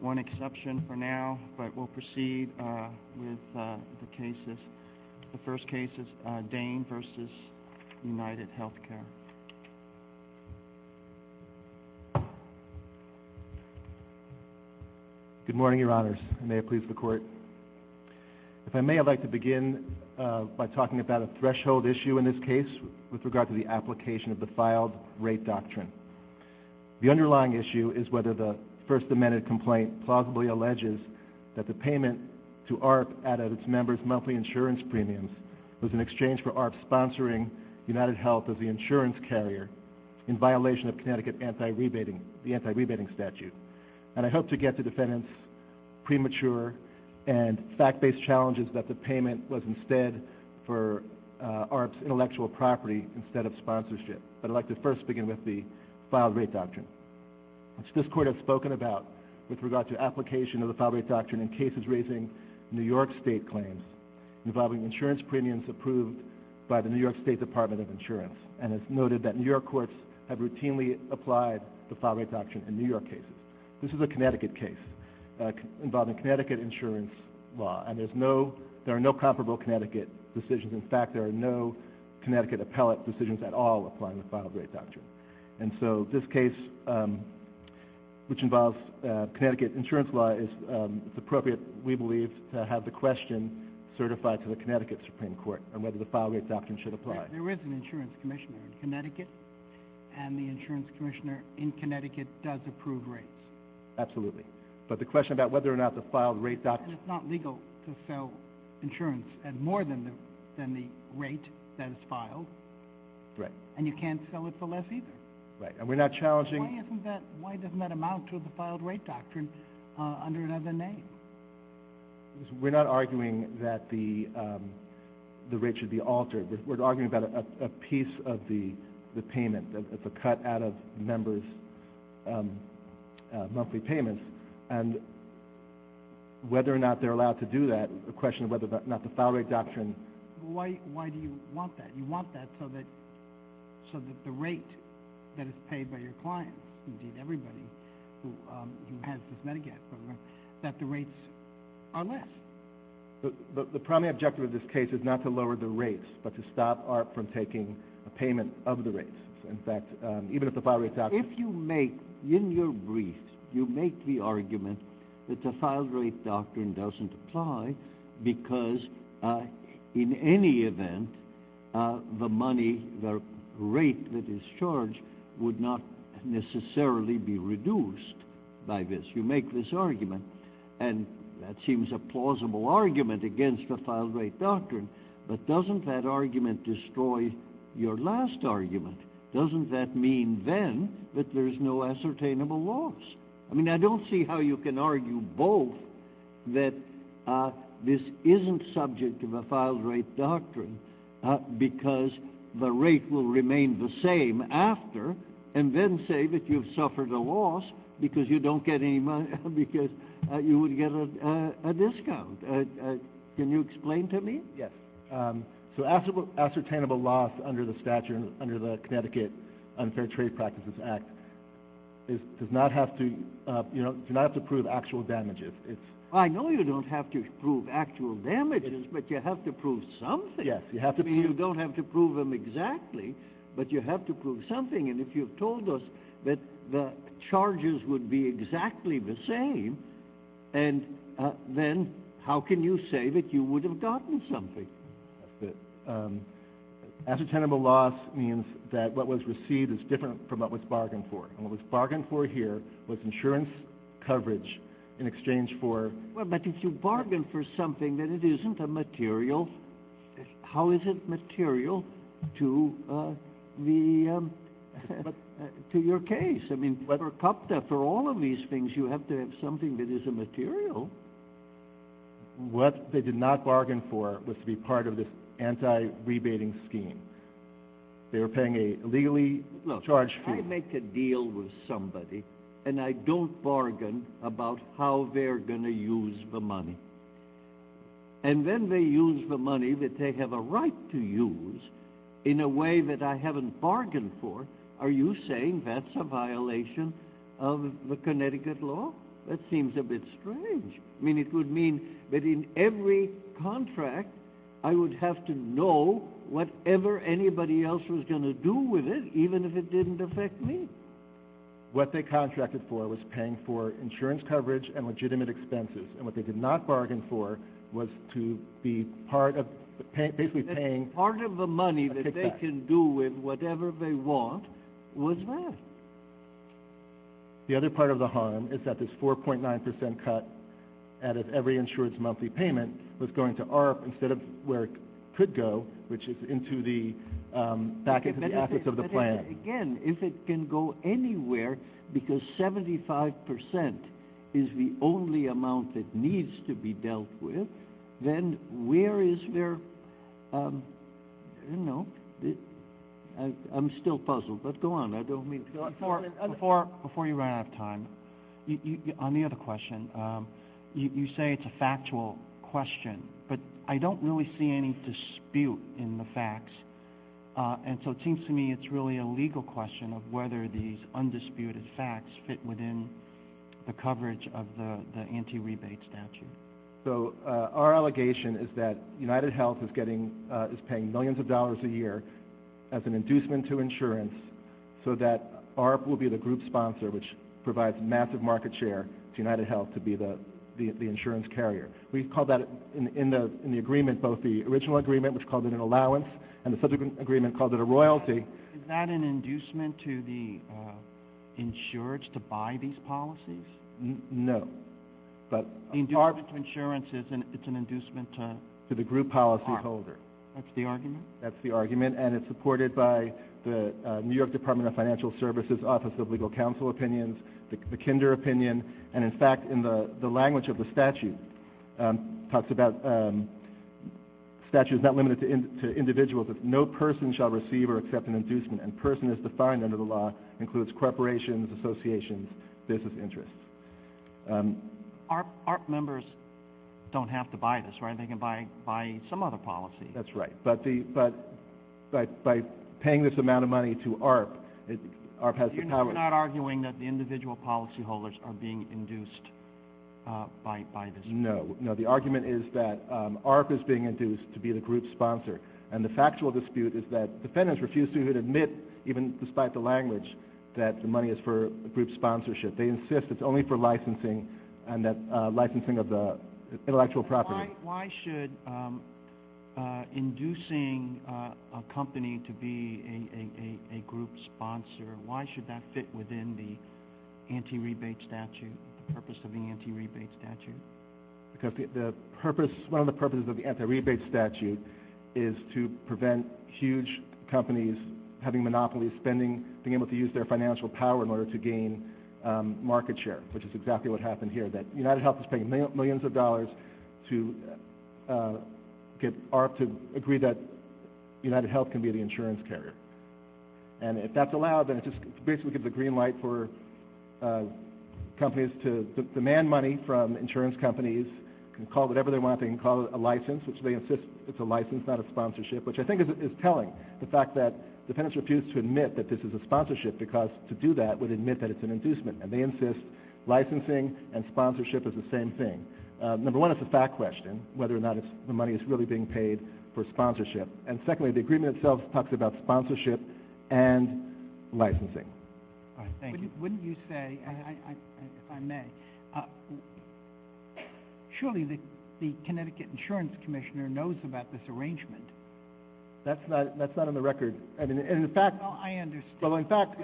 One exception for now, but we'll proceed with the cases. The first case is Dane v. UnitedHealthcare. Good morning, Your Honors. May it please the Court. If I may, I'd like to begin by talking about a threshold issue in this case with regard to the application of the Filed Rate Doctrine. The underlying issue is whether the First Amendment complaint plausibly alleges that the payment to AHRQ out of its members' monthly insurance premiums was in exchange for AHRQ sponsoring UnitedHealth as the insurance carrier in violation of Connecticut's anti-rebating statute. And I hope to get to defendants' premature and fact-based challenges that the payment was instead for AHRQ's intellectual property instead of sponsorship. I'd like to first begin with the Filed Rate Doctrine, which this Court has spoken about with regard to application of the Filed Rate Doctrine in cases raising New York State claims involving insurance premiums approved by the New York State Department of Insurance. And it's noted that New York courts have routinely applied the Filed Rate Doctrine in New York cases. This is a Connecticut case involving Connecticut insurance law, and there are no comparable Connecticut decisions. In fact, there are no Connecticut appellate decisions at all applying the Filed Rate Doctrine. And so this case, which involves Connecticut insurance law, is appropriate, we believe, to have the question certified to the Connecticut Supreme Court on whether the Filed Rate Doctrine should apply. There is an insurance commissioner in Connecticut, and the insurance commissioner in Connecticut does approve rates. Absolutely. But the question about whether or not the Filed Rate Doctrine... Right. And you can't sell it for less either. Right. And we're not challenging... Why doesn't that amount to the Filed Rate Doctrine under another name? We're not arguing that the rate should be altered. We're arguing about a piece of the payment, the cut out of members' monthly payments. And whether or not they're allowed to do that, the question of whether or not the Filed Rate Doctrine... Why do you want that? You want that so that the rate that is paid by your clients, everybody who has this Medigap, that the rates are less. The primary objective of this case is not to lower the rates, but to stop ART from taking a payment of the rates. In fact, even if the Filed Rate Doctrine... If you make, in your brief, you make the argument that the Filed Rate Doctrine doesn't apply because, in any event, the money, the rate that is charged, would not necessarily be reduced by this. You make this argument, and that seems a plausible argument against the Filed Rate Doctrine, but doesn't that argument destroy your last argument? Doesn't that mean, then, that there's no ascertainable loss? I mean, I don't see how you can argue both, that this isn't subject to the Filed Rate Doctrine because the rate will remain the same after, and then say that you've suffered a loss because you don't get any money, because you would get a discount. Can you explain to me? So, ascertainable loss under the Connecticut Unfair Trade Practices Act does not have to prove actual damages. I know you don't have to prove actual damages, but you have to prove something. I mean, you don't have to prove them exactly, but you have to prove something, and if you've told us that the charges would be exactly the same, then how can you say that you would have gotten something? Ascertainable loss means that what was received is different from what was bargained for, and what was bargained for here was insurance coverage in exchange for... But if you bargained for something, then it isn't a material... How is it material to your case? I mean, for all of these things, you have to have something that is a material. What they did not bargain for was to be part of this anti-rebating scheme. They were paying a legally charged fee. Look, I make a deal with somebody, and I don't bargain about how they're going to use the money. And then they use the money that they have a right to use in a way that I haven't bargained for. Are you saying that's a violation of the Connecticut law? That seems a bit strange. I mean, it would mean that in every contract, I would have to know whatever anybody else was going to do with it, even if it didn't affect me. What they contracted for was paying for insurance coverage and legitimate expenses, and what they did not bargain for was to be part of basically paying... What was that? The other part of the harm is that this 4.9% cut added every insurance monthly payment was going to ARRP instead of where it could go, which is back into the assets of the plan. Again, if it can go anywhere, because 75% is the only amount that needs to be dealt with, then where is their... I don't know. I'm still puzzled. Let's go on. Before you run out of time, on the other question, you say it's a factual question, but I don't really see any dispute in the facts, and so it seems to me it's really a legal question of whether these undisputed facts fit within the coverage of the anti-rebate statute. Our allegation is that UnitedHealth is paying millions of dollars a year as an inducement to insurance so that ARRP will be the group sponsor, which provides massive market share to UnitedHealth to be the insurance carrier. We've called that in the agreement, both the original agreement, which called it an allowance, and the subsequent agreement called it a royalty. Is that an inducement to the insurance to buy these policies? No. The inducement to insurance is an inducement to ARRP. To the group policyholder. That's the argument? That's the argument, and it's supported by the New York Department of Financial Services Office of Legal Counsel Opinions, the Kinder Opinion, and, in fact, in the language of the statute, it talks about... The statute is not limited to individuals, but no person shall receive or accept an inducement, and person is defined under the law, and that includes corporations, associations, business interests. ARRP members don't have to buy this, right? They can buy some other policy. That's right. But by paying this amount of money to ARRP, ARRP has the power... You're not arguing that the individual policyholders are being induced by this? No. No, the argument is that ARRP is being induced to be the group sponsor, and the factual dispute is that the defendants refuse to admit, even despite the language, that the money is for group sponsorship. They insist it's only for licensing, and that licensing of the intellectual property. Why should inducing a company to be a group sponsor, why should that fit within the anti-rebate statute, the purpose of the anti-rebate statute? Because one of the purposes of the anti-rebate statute is to prevent huge companies having monopolies, spending, being able to use their financial power in order to gain market share, which is exactly what happened here, that UnitedHealth is paying millions of dollars to get ARRP to agree that UnitedHealth can be the insurance carrier. And if that's allowed, then it's basically the green light for companies to demand money from insurance companies, can call whatever they want, can call it a license, which they insist it's a license, not a sponsorship, which I think is telling, the fact that defendants refuse to admit that this is a sponsorship because to do that would admit that it's an inducement, and they insist licensing and sponsorship is the same thing. Number one, it's a fact question, whether or not the money is really being paid for sponsorship. And secondly, the agreement itself talks about sponsorship and licensing. Thank you. Wouldn't you say, if I may, surely the Connecticut Insurance Commissioner knows about this arrangement. That's not on the record. I mean, in fact... I understand. Well, in fact...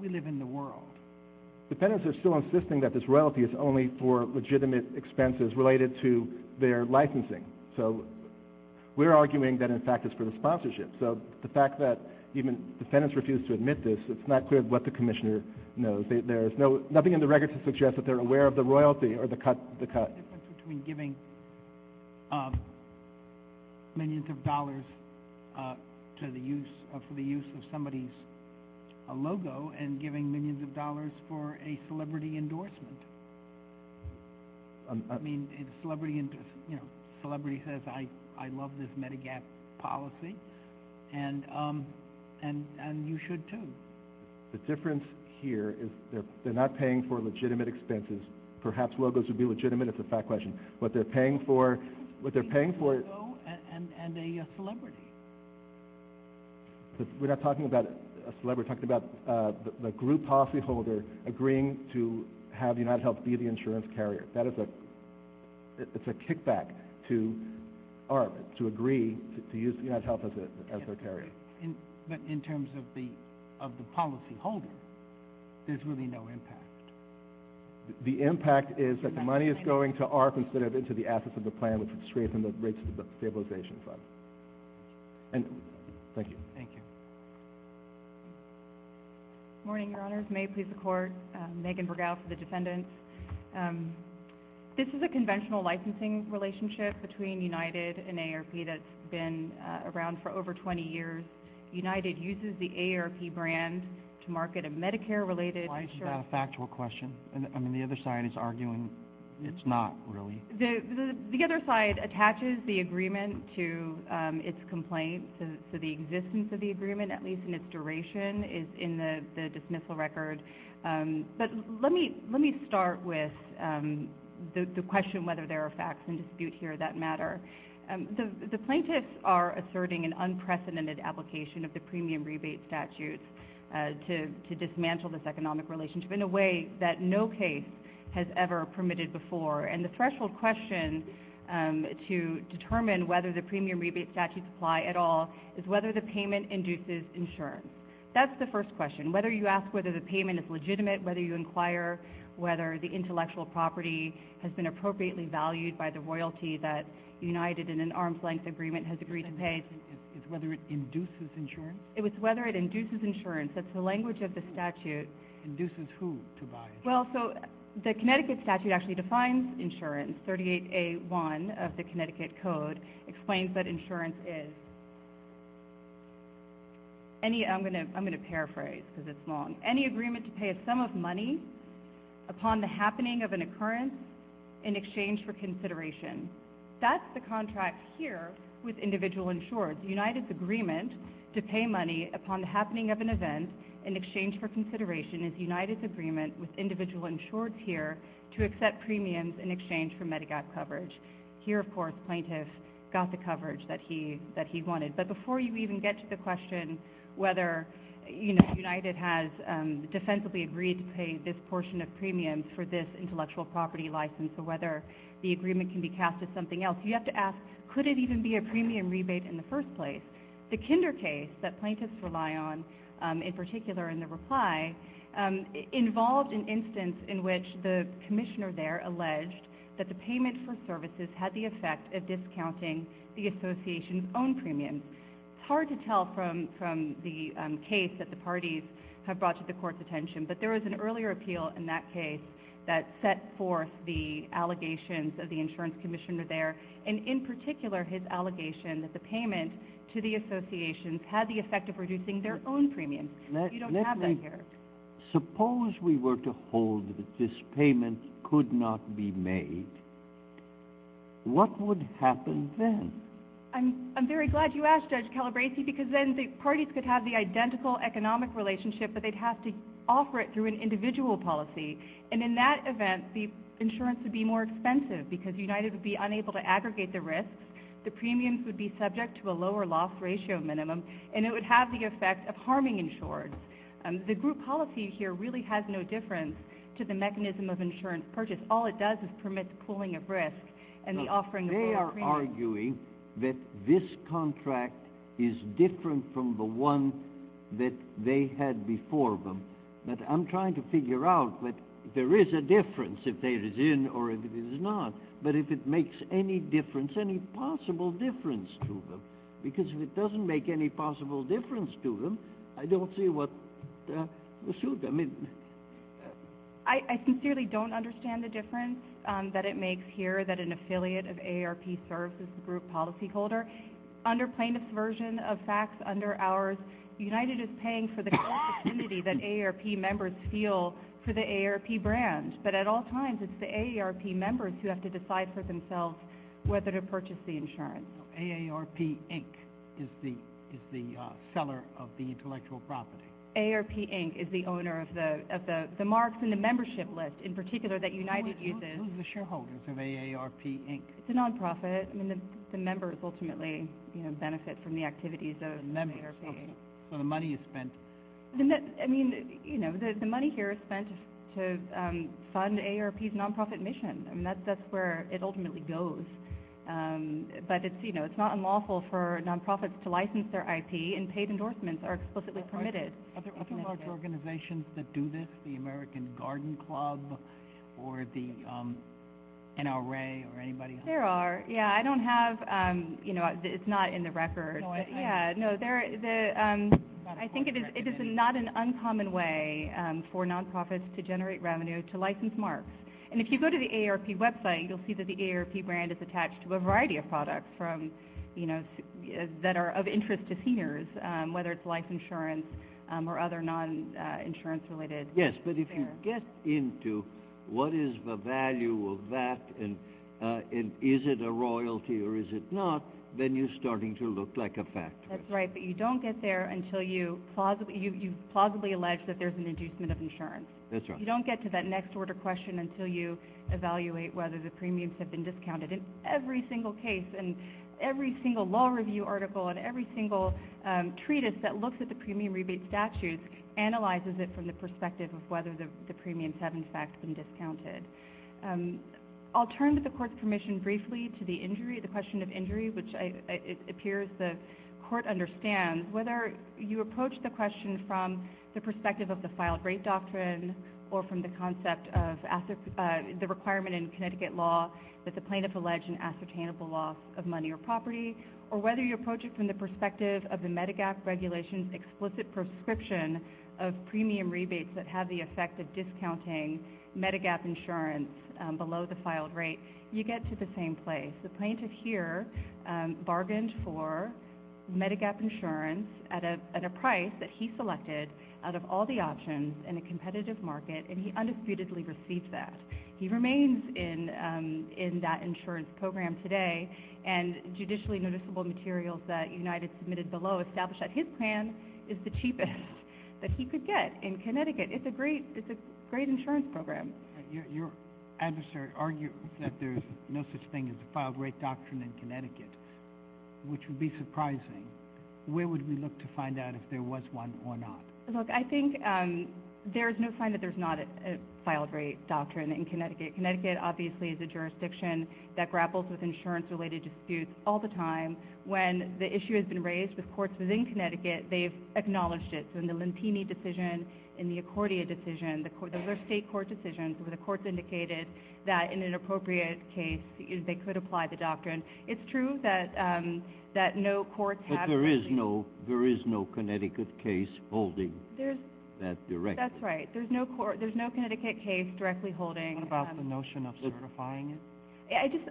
We live in the world. Defendants are still insisting that this royalty is only for legitimate expenses related to their licensing. So we're arguing that in fact it's for the sponsorship. So the fact that even defendants refuse to admit this, it's not clear what the Commissioner knows. Nothing in the record suggests that they're aware of the royalty or the cut. There's a difference between giving millions of dollars for the use of somebody's logo and giving millions of dollars for a celebrity endorsement. I mean, a celebrity says, I love this Medigap policy, and you should too. The difference here is they're not paying for legitimate expenses. Perhaps logos would be legitimate. It's a fact question. What they're paying for... A logo and a celebrity. We're not talking about a celebrity. We're talking about the group policyholder agreeing to have UnitedHealth be the insurance carrier. That is a... It's a kickback to ARP to agree to use UnitedHealth as their carrier. But in terms of the policyholder, there's really no impact. The impact is that money is going to ARP instead of into the assets of the plan, which is to strafing the rates of the stabilization fund. And... Thank you. Thank you. Morning, Your Honors. May it please the Court. Megan Bergow for the defendants. This is a conventional licensing relationship between United and AARP that's been around for over 20 years. United uses the AARP brand to market a Medicare-related insurance... Why is that a factual question? I mean, the other side is arguing it's not, really. The other side attaches the agreement to its complaint, so the existence of the agreement, at least in its duration, is in the dismissal record. But let me start with the question whether there are facts in dispute here that matter. The plaintiffs are asserting an unprecedented application of the premium rebate statutes to dismantle this economic relationship in a way that no case has ever permitted before. And the threshold question to determine whether the premium rebate statutes apply at all is whether the payment induces insurance. That's the first question. Whether you ask whether the payment is legitimate, whether you inquire whether the intellectual property has been appropriately valued by the royalty that United, in an arm's-length agreement, has agreed to pay... It's whether it induces insurance? It's whether it induces insurance. That's the language of the statute. Induces who to buy? Well, so, the Connecticut statute actually defines insurance. 38A1 of the Connecticut Code explains what insurance is. I'm going to paraphrase, because it's long. Any agreement to pay a sum of money upon the happening of an occurrence in exchange for consideration. That's the contract here with individual insured. United's agreement to pay money upon the happening of an event in exchange for consideration is United's agreement with individual insured here to accept premiums in exchange for Medigap coverage. Here, of course, plaintiff got the coverage that he wanted. But before you even get to the question whether United has defensively agreed to pay this portion of premiums under this intellectual property license or whether the agreement can be cast as something else, you have to ask, could it even be a premium rebate in the first place? The Kinder case that plaintiffs rely on, in particular in the reply, involved an instance in which the commissioner there alleged that the payment for services had the effect of discounting the association's own premiums. It's hard to tell from the case that the parties have brought to the court's attention, but there was an earlier appeal in that case that set forth the allegations of the insurance commissioner there, and in particular his allegation that the payment to the associations had the effect of reducing their own premiums. You don't have that here. Suppose we were to hold that this payment could not be made. What would happen then? I'm very glad you asked, Judge Calabresi, because then the parties could have the identical economic relationship but they'd have to offer it through an individual policy and in that event, the insurance would be more expensive because United would be unable to aggregate the risks, the premiums would be subject to a lower loss ratio minimum, and it would have the effect of harming insurance. The group policy here really has no difference to the mechanism of insurance purchase. All it does is permit the pooling of risk and the offering of premiums. They are arguing that this contract is different from the one that they had before them. I'm trying to figure out if there is a difference, if there is in or if there is not, but if it makes any difference, any possible difference to them, because if it doesn't make any possible difference to them, I don't see what will suit them. I sincerely don't understand the difference that it makes here that an affiliate of AARP serves as the group policy holder. Under Plaintiff's version of facts, under ours, United is paying for the cost of community that AARP members feel for the AARP brand. But at all times, it's the AARP members who have to decide for themselves whether to purchase the insurance. AARP, Inc. is the seller of the intellectual property. AARP, Inc. is the owner of the marks in the membership list, in particular, that United uses. Who is the shareholder of AARP, Inc.? It's a nonprofit. The members ultimately benefit from the activities of AARP, Inc. So the money is spent... I mean, you know, the money here is spent to fund AARP's nonprofit mission. That's where it ultimately goes. But it's not unlawful for nonprofits to license their IP, and paid endorsements are explicitly permitted. Are there other organizations that do this, the American Garden Club or the NRA or anybody? There are. Yeah, I don't have... It's not in the record. Yeah, no, I think it is not an uncommon way for nonprofits to generate revenue to license marks. And if you go to the AARP website, you'll see that the AARP brand is attached to a variety of products that are of interest to seniors, whether it's life insurance or other non-insurance-related... Yes, but if you get into what is the value of that and is it a royalty or is it not, then you're starting to look like a factory. That's right, but you don't get there until you've plausibly alleged that there's an inducement of insurance. That's right. You don't get to that next-order question until you evaluate whether the premiums have been discounted. In every single case and every single law review article and every single treatise that looks at the premium rebate statutes analyzes it from the perspective of whether the premiums have, in fact, been discounted. I'll turn to the court's permission briefly to the injury, the question of injury, which it appears the court understands whether you approach the question from the perspective of the filed-rate doctrine or from the concept of the requirement in Connecticut law that the plaintiff allege an ascertainable loss of money or property or whether you approach it from the perspective of the Medigap regulation's explicit prescription of premium rebates that have the effect of discounting Medigap insurance below the filed rate, you get to the same place. The plaintiff here bargained for Medigap insurance at a price that he selected out of all the options in a competitive market, and he undisputedly received that. He remains in that insurance program today, and judicially noticeable materials that United submitted below establish that his plan is the cheapest that he could get in Connecticut. It's a great insurance program. Your adversary argued that there's no such thing as a filed-rate doctrine in Connecticut, which would be surprising. Where would we look to find out if there was one or not? Look, I think there's no sign that there's not a filed-rate doctrine in Connecticut. Connecticut obviously is a jurisdiction that grapples with insurance-related disputes all the time. When the issue has been raised with courts within Connecticut, they've acknowledged it. So in the Lentini decision, in the Accordia decision, those are state court decisions where the courts indicated that in an appropriate case they could apply the doctrine. It's true that no courts have... But there is no Connecticut case holding that directly. That's right. There's no Connecticut case directly holding... What about the notion of certifying it?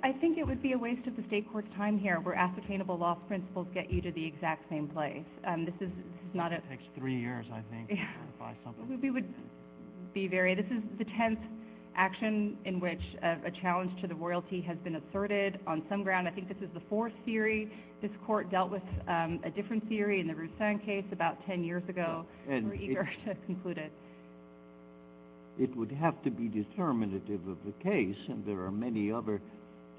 I think it would be a waste of the state court's time here where ascertainable loss principles get you to the exact same place. This is not a... It takes three years, I think, to certify something. I think we would be very... This is the 10th action in which a challenge to the royalty has been asserted. On some ground, I think this is the fourth theory. This court dealt with a different theory in the Ruth Stein case about 10 years ago. We're eager to conclude it. It would have to be determinative of the case, and there are many other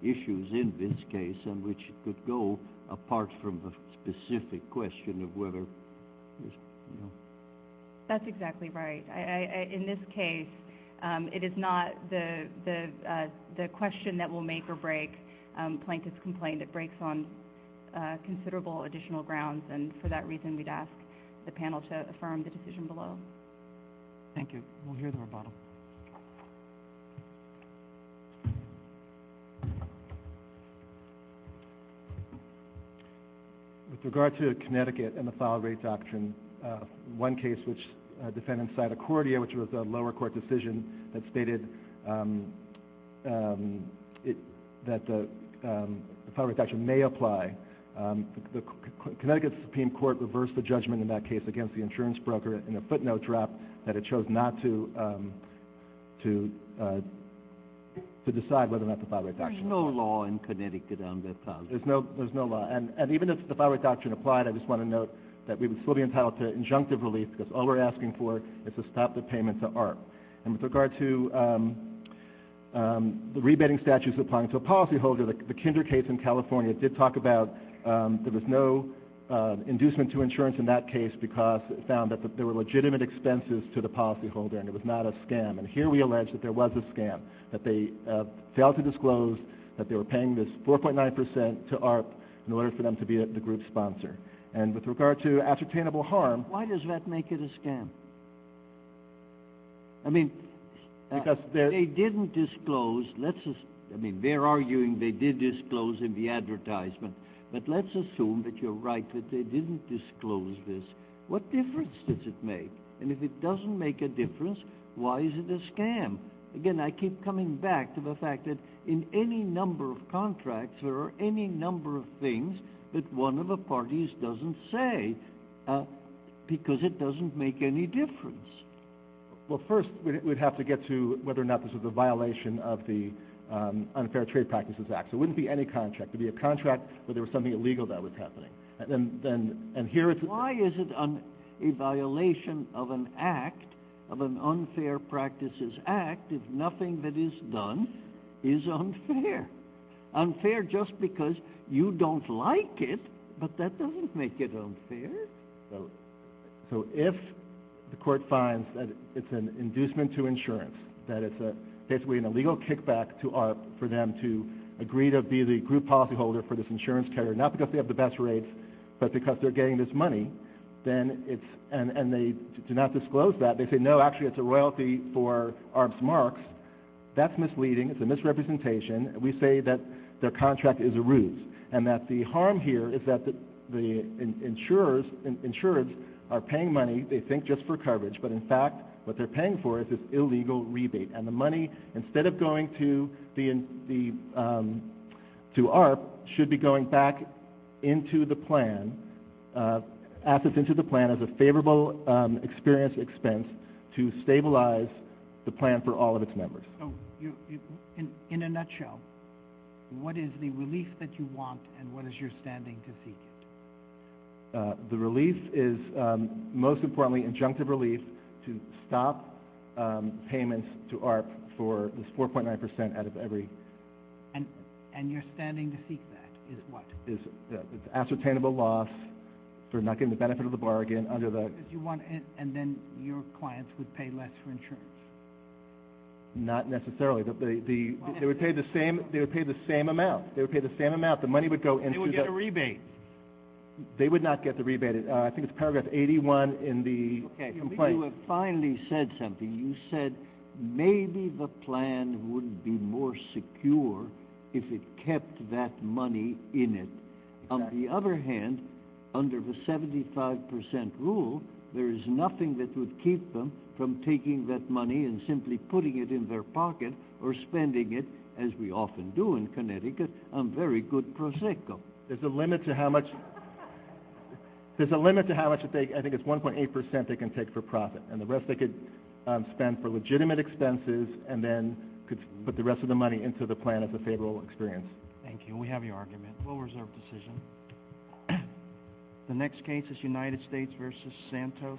issues in this case in which it could go apart from the specific question of whether... That's exactly right. In this case, it is not the question that will make or break plaintiff's complaint. It breaks on considerable additional grounds, and for that reason we'd ask the panel to affirm the decision below. Thank you. We'll hear the rebuttal. With regard to Connecticut and the solid rate doctrine, one case which defended cytochordia, which was a lower court decision that stated that the solid rate doctrine may apply. Connecticut's Supreme Court reversed the judgment in that case against the insurance broker in a footnote drop that it chose not to apply the solid rate doctrine. To decide whether or not the solid rate doctrine... There's no law in Connecticut on that. There's no law. And even if the solid rate doctrine applied, I just want to note that we would still be entitled to injunctive relief because all we're asking for is to stop the payment to ARP. And with regard to the rebating statutes applying to a policyholder, the Kinder case in California did talk about that there's no inducement to insurance in that case because it found that there were legitimate expenses to the policyholder and it was not a scam. And here we allege that there was a scam, that they failed to disclose that they were paying this 4.9% to ARP in order for them to be the group's sponsor. And with regard to ascertainable harm... Why does that make it a scam? I mean, they didn't disclose... I mean, they're arguing they did disclose in the advertisement, but let's assume that you're right, that they didn't disclose this. What difference does it make? And if it doesn't make a difference, why is it a scam? Again, I keep coming back to the fact that in any number of contracts, there are any number of things that one of the parties doesn't say because it doesn't make any difference. Well, first, we'd have to get to whether or not this is a violation of the Unfair Trade Practices Act. It wouldn't be any contract. It would be a contract where there was something illegal that was happening. Why is it a violation of an act, of an Unfair Practices Act, if nothing that is done is unfair? Unfair just because you don't like it, but that doesn't make it unfair. So if the court finds that it's an inducement to insurance, that it's basically an illegal kickback for them to agree to be the group policyholder for this insurance carrier, not because they have the best rates, but because they're getting this money, then it's – and they do not disclose that. They say, no, actually, it's a royalty for ARB's marks. That's misleading. It's a misrepresentation. We say that their contract is a ruse and that the harm here is that the insurers are paying money, they think, just for coverage. But, in fact, what they're paying for is this illegal rebate. And the money, instead of going to ARB, should be going back into the plan, assets into the plan, as a favorable experience expense to stabilize the plan for all of its members. So, in a nutshell, what is the release that you want and what does your standing concede? The release is, most importantly, injunctive release to stop payments to ARB for at least 4.9 percent out of every – And you're standing to seek that? Is it what? It's an ascertainable loss. They're not getting the benefit of the bargain under the – And then your clients would pay less for insurance? Not necessarily. They would pay the same amount. They would pay the same amount. The money would go into the – You would get a rebate. They would not get the rebate. I think it's paragraph 81 in the complaint. Okay. You finally said something. You said maybe the plan would be more secure if it kept that money in it. On the other hand, under the 75 percent rule, there is nothing that would keep them from taking that money and simply putting it in their pocket or spending it, as we often do in Connecticut, a very good prosecco. There's a limit to how much – There's a limit to how much they – I think it's 1.8 percent they can take for profit, and the rest they could spend for legitimate expenses and then put the rest of the money into the plan as a favorable experience. Thank you. We have your argument. Full reserve decision. The next case is United States v. Santos.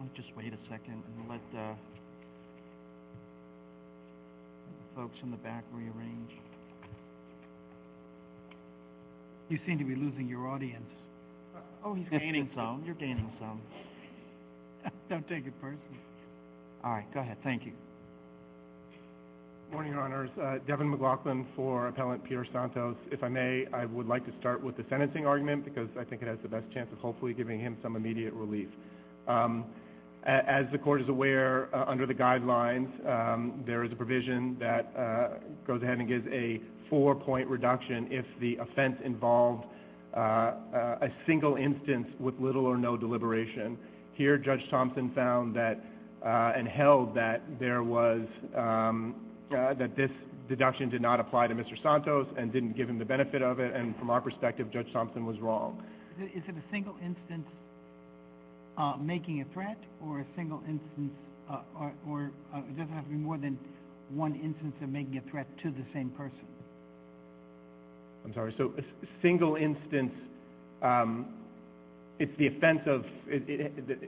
I'll just wait a second and let the folks in the back rearrange. You seem to be losing your audience. Oh, you're gaining some. Don't take it personally. All right. Go ahead. Thank you. Good morning, Your Honors. Devin McLaughlin for Appellant Peter Santos. If I may, I would like to start with the sentencing argument because I think it has the best chance of hopefully giving him some immediate relief. As the Court is aware, under the guidelines, there is a provision that goes ahead and gives a four-point reduction if the offense involves a single instance with little or no deliberation. Here, Judge Thompson found that and held that there was – that this deduction did not apply to Mr. Santos and didn't give him the benefit of it, and from our perspective, Judge Thompson was wrong. Is it a single instance making a threat or a single instance – or does it have to be more than one instance of making a threat to the same person? I'm sorry. So a single instance, it's the offense of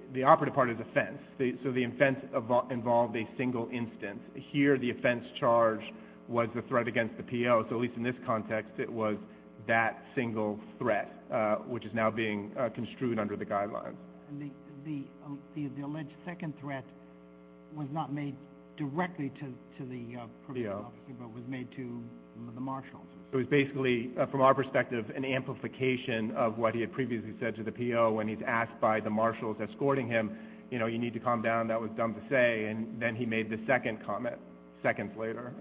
– the operative part is offense. So the offense involved a single instance. Here, the offense charge was the threat against the PO, so at least in this context, it was that single threat, which is now being construed under the guidelines. The alleged second threat was not made directly to the PO. It was made to the marshals. It was basically, from our perspective, an amplification of what he had previously said to the PO when he's asked by the marshals escorting him, you know, you need to calm down, that was dumb to say, and then he made the second comment seconds later.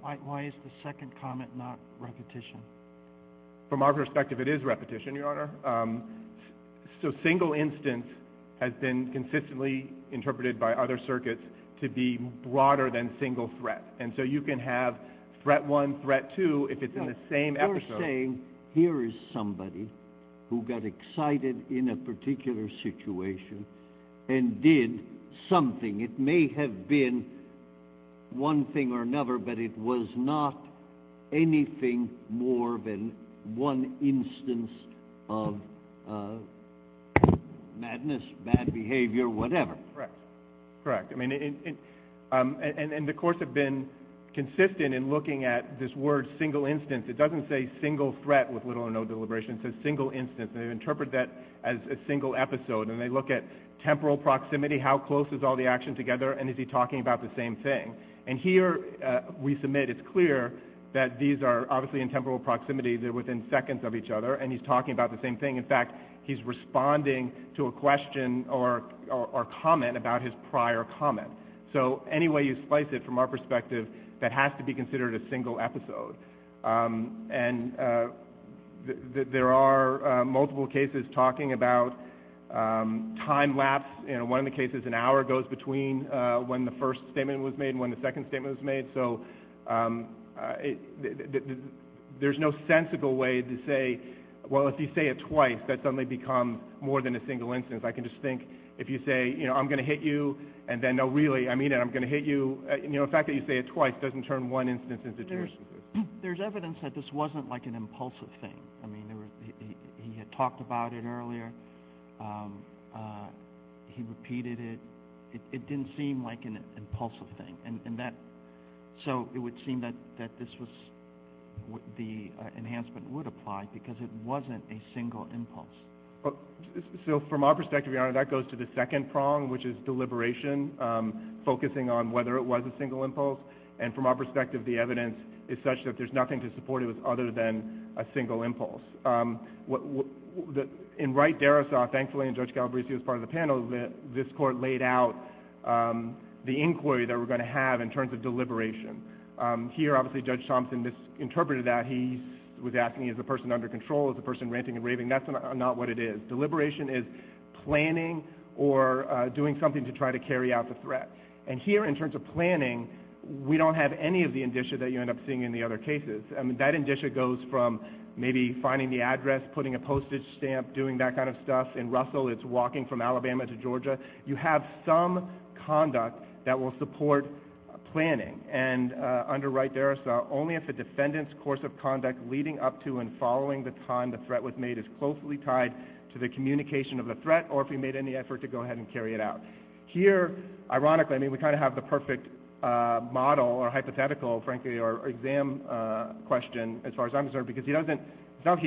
Why is the second comment not repetition? From our perspective, it is repetition, Your Honor. So single instance has been consistently interpreted by other circuits to be broader than single threat, and so you can have threat one, threat two if it's in the same episode. You're saying here is somebody who got excited in a particular situation and did something. It may have been one thing or another, but it was not anything more than one instance of madness, bad behavior, whatever. Correct. Correct. And the courts have been consistent in looking at this word single instance. It doesn't say single threat with little or no deliberation. It says single instance, and they interpret that as a single episode, and they look at temporal proximity, how close is all the action together, and is he talking about the same thing? And here we submit it's clear that these are obviously in temporal proximity. They're within seconds of each other, and he's talking about the same thing. In fact, he's responding to a question or comment about his prior comment. So any way you slice it from our perspective, that has to be considered a single episode. And there are multiple cases talking about time lapse. One of the cases, an hour goes between when the first statement was made and when the second statement was made. So there's no sensical way to say, well, if you say it twice, that's going to become more than a single instance. I can just think if you say, you know, I'm going to hit you, and then no, really, I mean it, I'm going to hit you. You know, the fact that you say it twice doesn't turn one instance into two. There's evidence that this wasn't like an impulsive thing. He had talked about it earlier. He repeated it. It didn't seem like an impulsive thing. So it would seem that this was the enhancement would apply because it wasn't a single impulse. So from our perspective, Your Honor, that goes to the second prong, which is deliberation, focusing on whether it was a single impulse. And from our perspective, the evidence is such that there's nothing to support it other than a single impulse. In Wright-Darrisoff, thankfully, and Judge Galbraith was part of the panel, this court laid out the inquiry that we're going to have in terms of deliberation. Here, obviously, Judge Thompson misinterpreted that. He was asking, is the person under control? Is the person ranting and raving? That's not what it is. Deliberation is planning or doing something to try to carry out the threat. And here, in terms of planning, we don't have any of the indicia that you end up seeing in the other cases. I mean, that indicia goes from maybe finding the address, putting a postage stamp, doing that kind of stuff. In Russell, it's walking from Alabama to Georgia. You have some conduct that will support planning. And under Wright-Darrisoff, only if the defendant's course of conduct leading up to and following the time the threat was made is closely tied to the communication of the threat or if we made any effort to go ahead and carry it out. Here, ironically, I mean, we kind of have the perfect model or hypothetical, frankly, or exam question, as far as I'm concerned, because he doesn't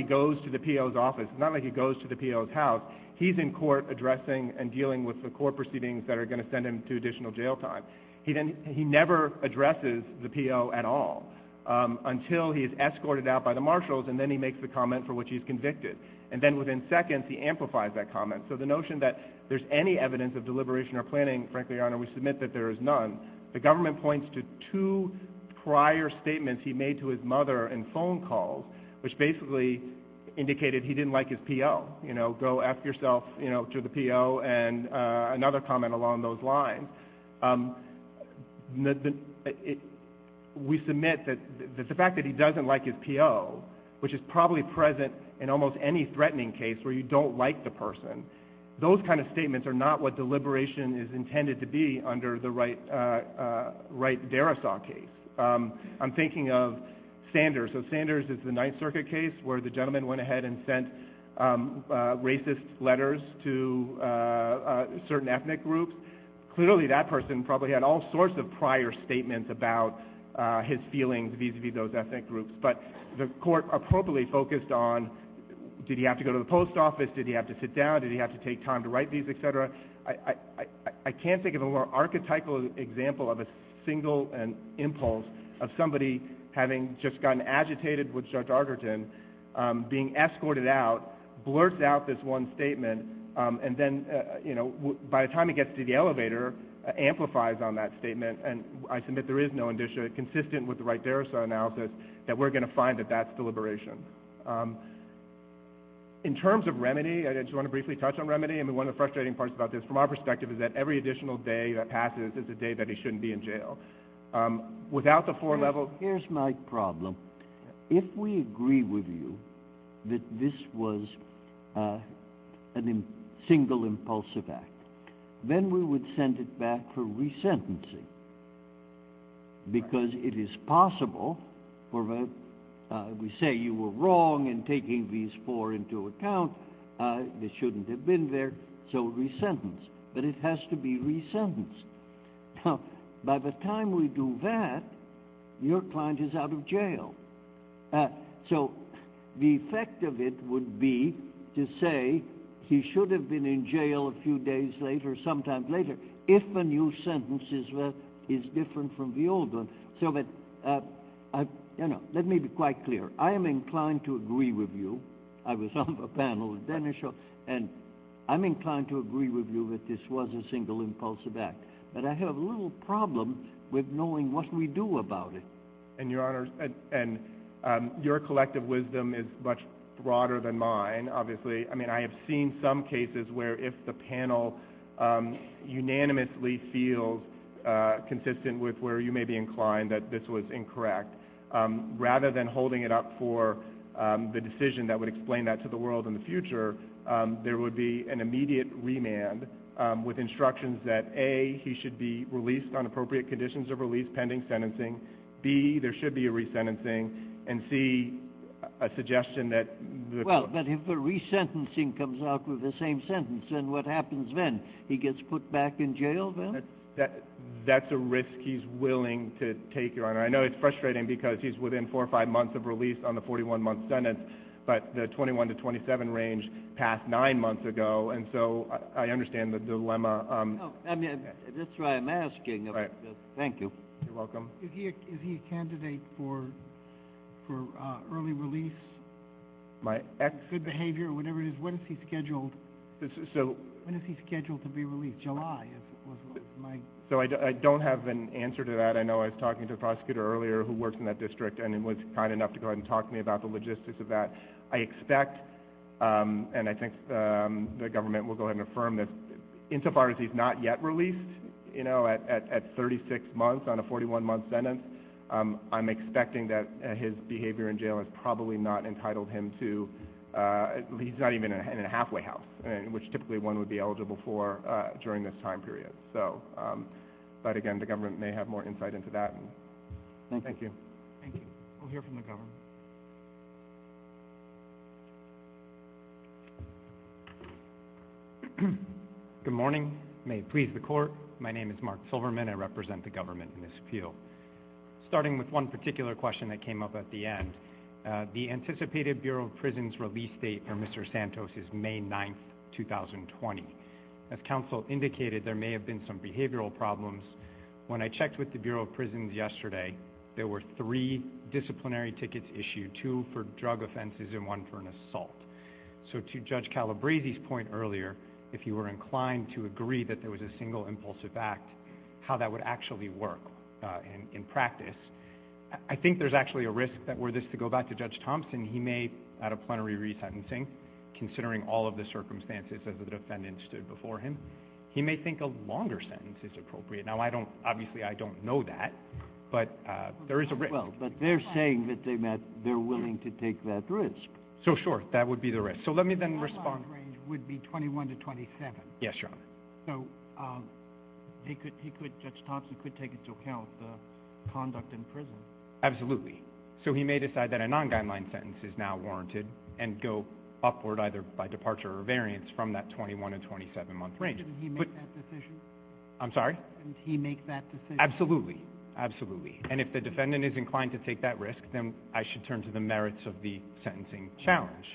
go to the P.O.'s office. It's not like he goes to the P.O.'s house. He's in court addressing and dealing with the court proceedings that are going to send him to additional jail time. He never addresses the P.O. at all until he's escorted out by the marshals, and then he makes the comment for which he's convicted. And then within seconds, he amplifies that comment. So the notion that there's any evidence of deliberation or planning, frankly, Your Honor, we submit that there is none. The government points to two prior statements he made to his mother in phone calls, which basically indicated he didn't like his P.O. You know, go ask yourself to the P.O. and another comment along those lines. We submit that the fact that he doesn't like his P.O., which is probably present in almost any threatening case where you don't like the person, those kind of statements are not what deliberation is intended to be under the Wright-Darrisaw case. I'm thinking of Sanders. So Sanders is the Ninth Circuit case where the gentleman went ahead and sent racist letters to certain ethnic groups. Clearly, that person probably had all sorts of prior statements about his feelings vis-à-vis those ethnic groups, but the court appropriately focused on, did he have to go to the post office, did he have to sit down, did he have to take time to write these, et cetera. I can't think of a more archetypal example of a single impulse of somebody having just gotten agitated with Judge Arterton being escorted out, blurted out this one statement, and then, you know, by the time he gets to the elevator, amplifies on that statement, and I submit there is no indicia consistent with the Wright-Darrisaw analysis that we're going to find that that's deliberation. In terms of remedy, I just want to briefly touch on remedy, and one of the frustrating parts about this, from our perspective, is that every additional day that passes is a day that he shouldn't be in jail. Without the four-level... Here's my problem. If we agree with you that this was a single impulsive act, then we would send it back for resentencing, because it is possible for... We say you were wrong in taking these four into account. They shouldn't have been there, so resentence. But it has to be resentenced. Now, by the time we do that, your client is out of jail. So the effect of it would be to say he should have been in jail a few days later, or some time later, if a new sentence is different from the old one. So let me be quite clear. I am inclined to agree with you. I was on the panel with Dennis, and I'm inclined to agree with you that this was a single impulsive act. But I have a little problem with knowing what we do about it. And, Your Honor, your collective wisdom is much broader than mine, obviously. I mean, I have seen some cases where if the panel unanimously feels consistent with where you may be inclined, that this was incorrect, rather than holding it up for the decision that would explain that to the world in the future, there would be an immediate remand with instructions that, A, he should be released on appropriate conditions of release pending sentencing, B, there should be a resentencing, and C, a suggestion that... Well, but if the resentencing comes out with the same sentence, then what happens then? He gets put back in jail, then? That's a risk he's willing to take, Your Honor. I know it's frustrating because he's within four or five months of release on the 41-month sentence, but the 21 to 27 range passed nine months ago, and so I understand the dilemma. That's why I'm asking. Thank you. You're welcome. Is he a candidate for early release? Good behavior, whatever it is. When is he scheduled to be released? July, I suppose. So I don't have an answer to that. I know I was talking to a prosecutor earlier who works in that district, and he was kind enough to go ahead and talk to me about the logistics of that. I expect, and I think the government will go ahead and affirm this, insofar as he's not yet released, you know, at 36 months on a 41-month sentence, I'm expecting that his behavior in jail has probably not entitled him to, he's not even in a halfway house, which typically one would be eligible for during this time period. But, again, the government may have more insight into that. Thank you. Thank you. We'll hear from the government. Good morning. May it please the Court. My name is Mark Silverman. I represent the government in this field. Starting with one particular question that came up at the end, the anticipated Bureau of Prisons release date for Mr. Santos is May 9th, 2020. As counsel indicated, there may have been some behavioral problems. When I checked with the Bureau of Prisons yesterday, there were three disciplinary tickets issued, two for drug offenses and one for an assault. So to Judge Calabresi's point earlier, if he were inclined to agree that there was a single impulsive act, how that would actually work in practice. I think there's actually a risk that were this to go back to Judge Thompson, he may, out of plenary resentencing, considering all of the circumstances as the defendant stood before him, he may think a longer sentence is appropriate. Now, obviously I don't know that, but there is a risk. Well, but they're saying that they're willing to take that risk. So, sure, that would be the risk. So let me then respond. Yes, sure. Absolutely. So he may decide that a non-guideline sentence is now warranted and go upward either by departure or variance from that 21 and 27-month range. Did he make that decision? I'm sorry? Did he make that decision? Absolutely. Absolutely. And if the defendant is inclined to take that risk, then I should turn to the merits of the sentencing challenge.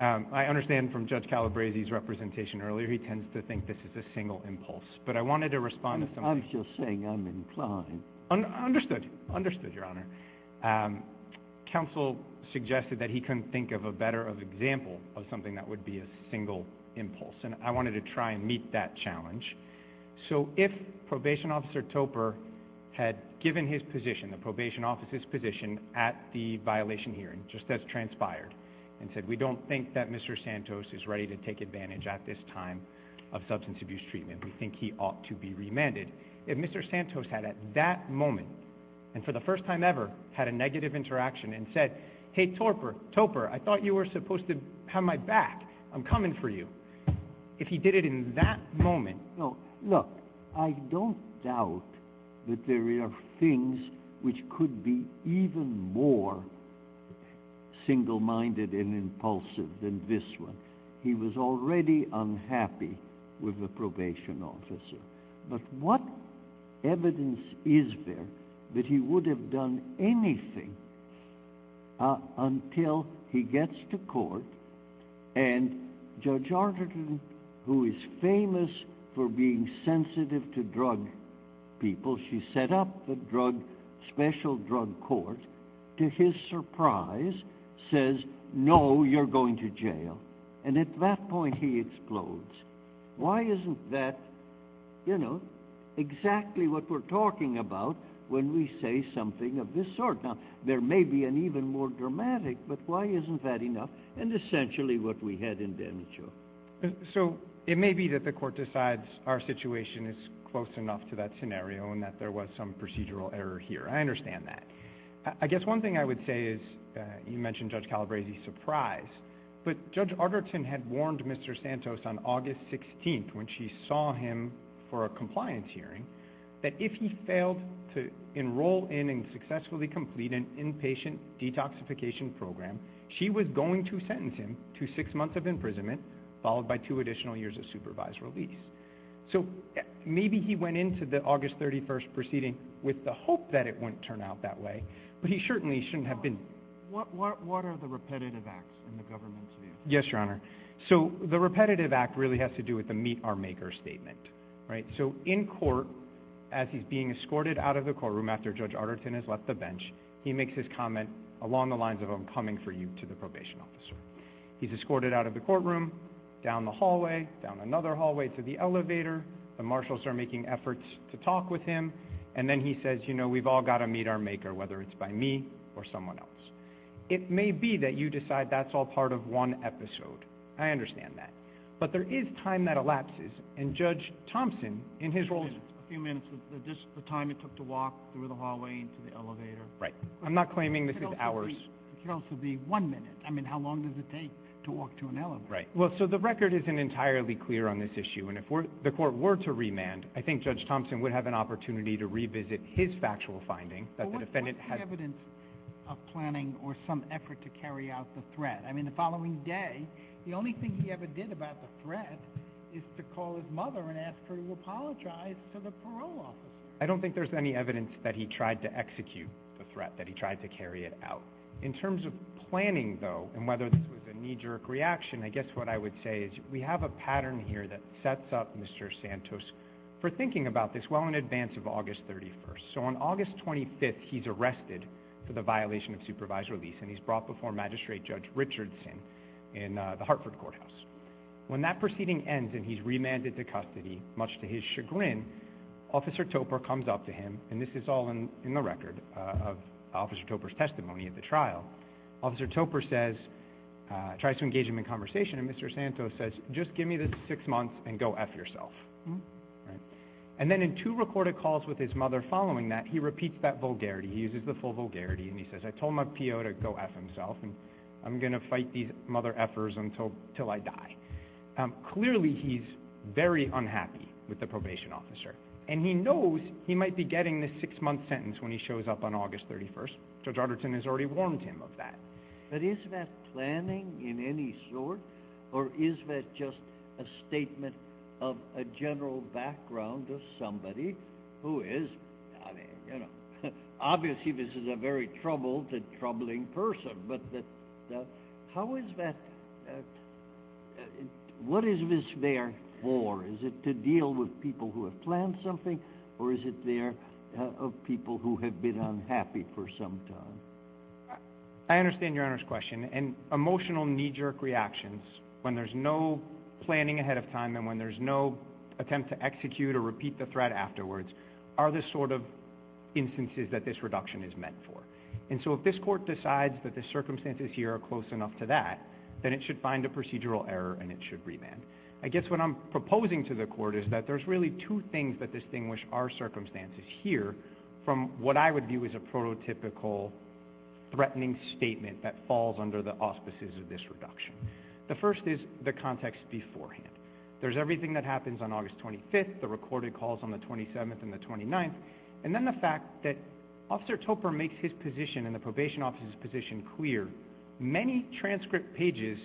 I understand from Judge Calabresi's representation earlier, he tends to think this is a single impulse. But I wanted to respond to something. I'm just saying I'm inclined. I understood you. Understood, Your Honor. Counsel suggested that he couldn't think of a better example of something that would be a single impulse, and I wanted to try and meet that challenge. So if Probation Officer Topper had given his position, the probation officer's position, at the violation hearing, just as transpired, and said, we don't think that Mr. Santos is ready to take advantage at this time of substance abuse treatment. We think he ought to be remanded. If Mr. Santos had at that moment, and for the first time ever, had a negative interaction and said, hey, Topper, I thought you were supposed to have my back. I'm coming for you. If he did it in that moment. Look, I don't doubt that there are things which could be even more single-minded and impulsive than this one. He was already unhappy with the probation officer. But what evidence is there that he would have done anything until he gets to court, and Judge Arterton, who is famous for being sensitive to drug people, she set up the special drug court. To his surprise, says, no, you're going to jail. And at that point, he explodes. Why isn't that exactly what we're talking about when we say something of this sort? Now, there may be an even more dramatic, but why isn't that enough? And, essentially, what we had in Dermatul. So, it may be that the court decides our situation is close enough to that scenario and that there was some procedural error here. I understand that. I guess one thing I would say is, you mentioned Judge Calabresi's surprise, but Judge Arterton had warned Mr. Santos on August 16th, when she saw him for a compliance hearing, that if he failed to enroll in and successfully complete an inpatient detoxification program, she was going to sentence him to six months of imprisonment, followed by two additional years of supervised release. So, maybe he went into the August 31st proceeding with the hope that it wouldn't turn out that way, but he certainly shouldn't have been... What are the repetitive acts in the government's view? Yes, Your Honor. So, the repetitive act really has to do with the meet-our-maker statement. So, in court, as he's being escorted out of the courtroom after Judge Arterton has left the bench, he makes his comment along the lines of, I'm coming for you, to the probation officer. He's escorted out of the courtroom, down the hallway, down another hallway to the elevator, the marshals are making efforts to talk with him, and then he says, you know, we've all got to meet our maker, whether it's by me or someone else. It may be that you decide that's all part of one episode. I understand that. But there is time that elapses, and Judge Thompson, in his role... Just a few minutes. Is this the time it took to walk through the hallway to the elevator? Right. I'm not claiming this is hours. It could also be one minute. I mean, how long does it take to walk to an elevator? Right. Well, so the record isn't entirely clear on this issue, and if the court were to remand, I think Judge Thompson would have an opportunity to revisit his factual finding. But what's the evidence of planning or some effort to carry out the threat? I mean, the following day, the only thing he ever did about the threat is to call his mother and ask her to apologize to the parole officer. I don't think there's any evidence that he tried to execute the threat, that he tried to carry it out. In terms of planning, though, and whether this was a knee-jerk reaction, I guess what I would say is we have a pattern here that sets up Mr. Santos for thinking about this well in advance of August 31st. So on August 25th, he's arrested for the violation of supervised release, and he's brought before Magistrate Judge Richardson in the Hartford Courthouse. When that proceeding ends and he's remanded to custody, much to his chagrin, Officer Topper comes up to him, and this is all in the record of Officer Topper's testimony at the trial. Officer Topper says, tries to engage him in conversation, and Mr. Santos says, just give me this six months and go F yourself. And then in two recorded calls with his mother following that, he repeats that vulgarity. He uses the full vulgarity, and he says, I told my PO to go F himself, and I'm going to fight these mother F'ers until I die. Clearly he's very unhappy with the probation officer, and he knows he might be getting this six-month sentence when he shows up on August 31st. Judge Richardson has already warned him of that. But is that planning in any sort, or is that just a statement of a general background of somebody who is, I mean, you know, obviously this is a very troubled and troubling person, but how is that, what is this there for? Is it to deal with people who have planned something, or is it there of people who have been unhappy for some time? I understand Your Honor's question, and emotional knee-jerk reactions, when there's no planning ahead of time and when there's no attempt to execute or repeat the threat afterwards, are the sort of instances that this reduction is meant for. And so if this court decides that the circumstances here are close enough to that, then it should find a procedural error and it should revamp. I guess what I'm proposing to the court is that there's really two things that distinguish our circumstances here from what I would view as a prototypical threatening statement that falls under the auspices of this reduction. The first is the context beforehand. There's everything that happens on August 25th, the recorded calls on the 27th and the 29th, and then the fact that Officer Topper makes his position and the probation officer's position clear. Many transcript pages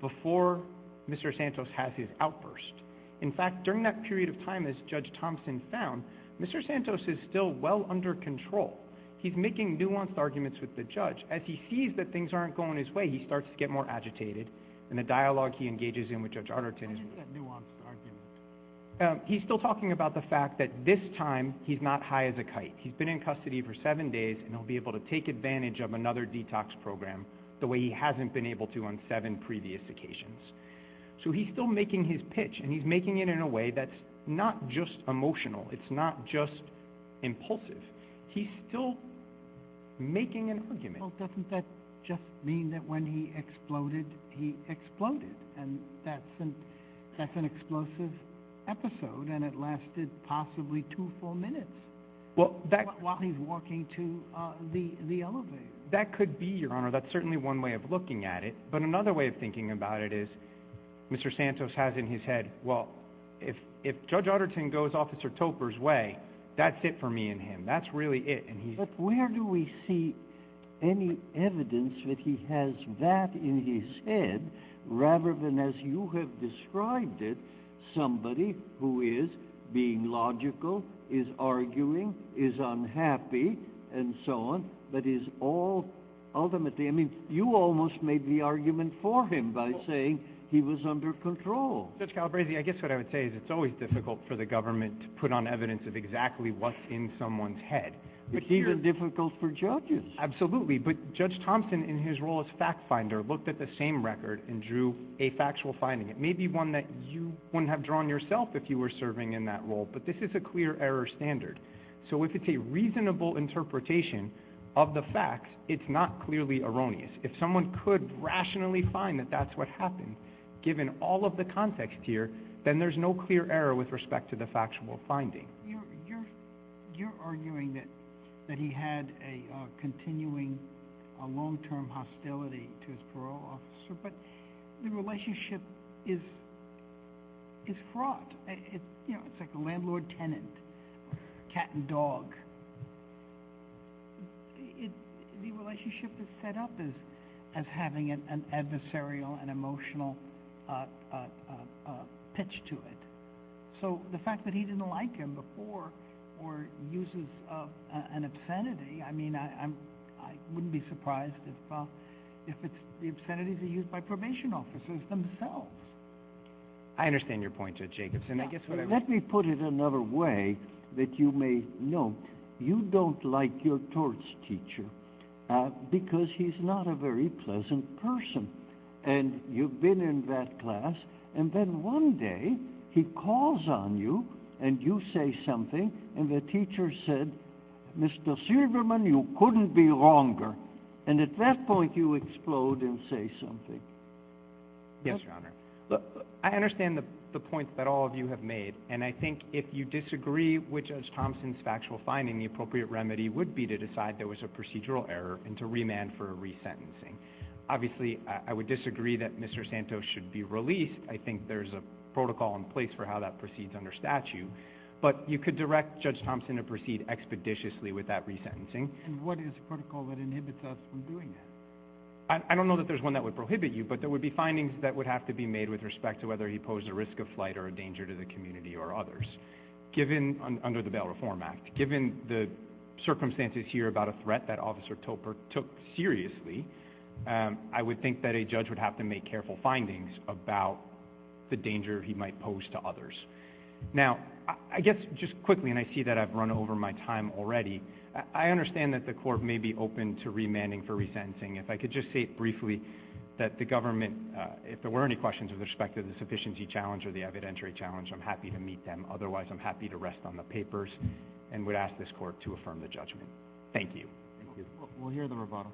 before Mr. Santos has his outburst. In fact, during that period of time, as Judge Thompson found, Mr. Santos is still well under control. He's making nuanced arguments with the judge. As he sees that things aren't going his way, he starts to get more agitated, and the dialogue he engages in with Judge Arnerton is nuanced. He's still talking about the fact that this time he's not high as a kite. He's been in custody for seven days, and he'll be able to take advantage of another detox program the way he hasn't been able to on seven previous occasions. So he's still making his pitch, and he's making it in a way that's not just emotional. It's not just impulsive. He's still making an argument. Well, doesn't that just mean that when he exploded, he exploded? And that's an explosive episode, and it lasted possibly two full minutes while he's walking to the elevator. That could be, Your Honor. That's certainly one way of looking at it. But another way of thinking about it is Mr. Santos has in his head, well, if Judge Arnerton goes Officer Topper's way, that's it for me and him. That's really it. But where do we see any evidence that he has that in his head rather than, as you have described it, somebody who is being logical, is arguing, is unhappy, and so on, but is all ultimately, I mean, you almost made the argument for him by saying he was under control. Judge Calabresi, I guess what I would say is it's always difficult for the government to put on evidence of exactly what's in someone's head. It's even difficult for judges. Absolutely. But Judge Thompson, in his role as fact finder, looked at the same record and drew a factual finding. It may be one that you wouldn't have drawn yourself if you were serving in that role, but this is a clear error standard. So if it's a reasonable interpretation of the facts, it's not clearly erroneous. If someone could rationally find that that's what happened, given all of the context here, then there's no clear error with respect to the factual finding. You're arguing that he had a continuing long-term hostility to his parole officer, but the relationship is fraught. It's like a landlord-tenant, cat and dog. The relationship is set up as having an adversarial and emotional pitch to it. So the fact that he didn't like him before or uses an obscenity, I mean, I wouldn't be surprised if the obscenities are used by probation officers themselves. I understand your point, Judge Jacobson. Let me put it another way that you may note. You don't like your torts teacher because he's not a very pleasant person, and you've been in that class, and then one day he calls on you and you say something, and the teacher said, Mr. Silverman, you couldn't be longer, and at that point you explode and say something. Yes, Your Honor. I understand the points that all of you have made, and I think if you disagree which of Thompson's factual findings the appropriate remedy would be to decide there was a procedural error and to remand for a resentencing. Obviously, I would disagree that Mr. Santos should be released. I think there's a protocol in place for how that proceeds under statute, but you could direct Judge Thompson to proceed expeditiously with that resentencing. And what is the protocol that inhibits us from doing that? I don't know that there's one that would prohibit you, but there would be findings that would have to be made with respect to whether he posed a risk of flight or a danger to the community or others under the Bail Reform Act. Given the circumstances here about a threat that Officer Topper took seriously, I would think that a judge would have to make careful findings about the danger he might pose to others. Now, I guess just quickly, and I see that I've run over my time already, I understand that the court may be open to remanding for resentencing. If I could just say briefly that the government, if there were any questions with respect to the sufficiency challenge or the evidentiary challenge, I'm happy to meet them. And I would ask this court to affirm the judgment. Thank you. Thank you. We'll hear the rebuttal.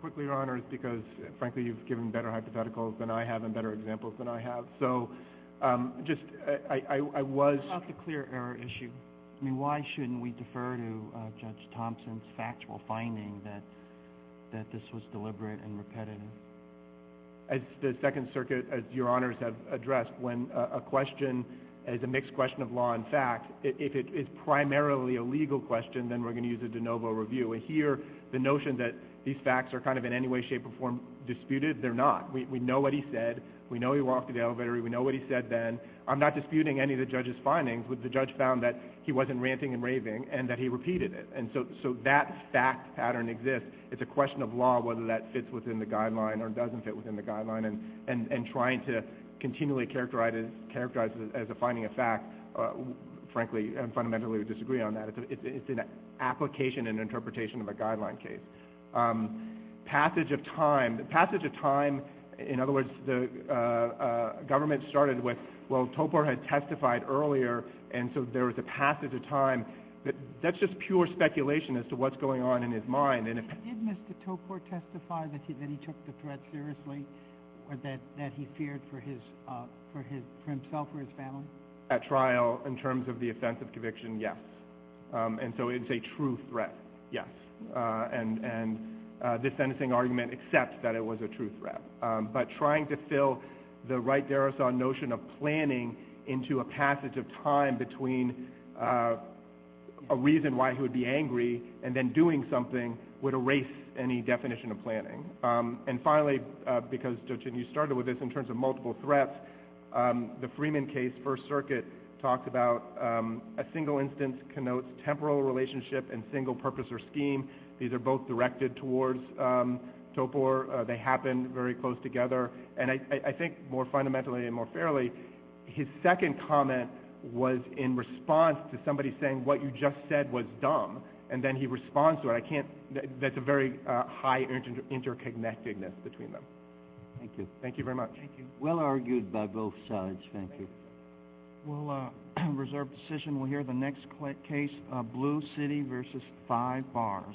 Quickly, Your Honors, because, frankly, you've given better hypotheticals than I have and better examples than I have. So, just, I was... It's not the clear error issue. I mean, why shouldn't we defer to Judge Thompson's factual finding that this was deliberate and repetitive? As the Second Circuit, as Your Honors have addressed, when a question is a mixed question of law and fact, if it is primarily a legal question, then we're going to use a de novo review. And here, the notion that these facts are kind of in any way, shape, or form disputed, they're not. We know what he said. We know he walked to the elevator. We know what he said then. I'm not disputing any of the judge's findings, but the judge found that he wasn't ranting and raving and that he repeated it. And so that fact pattern exists. It's a question of law whether that fits within the guideline or doesn't fit within the guideline. And trying to continually characterize it as a finding of fact, frankly, I fundamentally disagree on that. It's an application and interpretation of a guideline case. Passage of time. The passage of time, in other words, the government started with, well, Topar had testified earlier, and so there was a passage of time. That's just pure speculation as to what's going on in his mind. Did Mr. Topar testify that he then took the threat seriously or that he feared for himself or his family? At trial, in terms of the offense of conviction, yes. And so it's a true threat, yes. And this sentencing argument accepts that it was a true threat. But trying to fill the right derison notion of planning into a passage of time between a reason why he would be angry and then doing something would erase any definition of planning. And finally, because you started with this in terms of multiple threats, the Freeman case, First Circuit, talks about a single instance connotes temporal relationship and single purpose or scheme. These are both directed towards Topar. They happen very close together. And I think more fundamentally and more fairly, his second comment was in response to somebody saying what you just said was dumb, and then he responds to it. That's a very high interconnectedness between them. Thank you. Thank you very much. Thank you. Well argued by both sides. Thank you. We'll reserve the session. We'll hear the next case, Blue City v. Five Bars.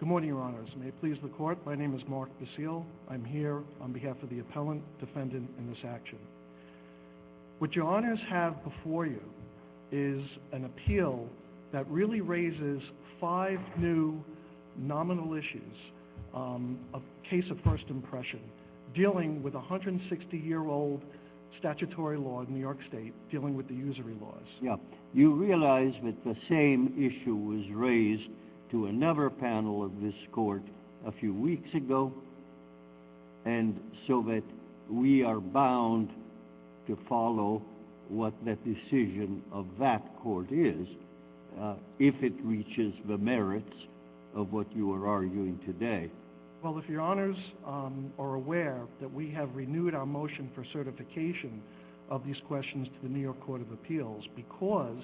Good morning, Your Honors. May it please the Court, my name is Mark Basile. I'm here on behalf of the appellant defendant in this action. What Your Honors have before you is an appeal that really raises five new nominal issues, a case of first impression dealing with 160-year-old statutory law in New York State dealing with the usury laws. You realize that the same issue was raised to another panel of this court a few weeks ago, and so that we are bound to follow what the decision of that court is if it reaches the merits of what you are arguing today. Well, if Your Honors are aware that we have renewed our motion for certification of these questions to the New York Court of Appeals because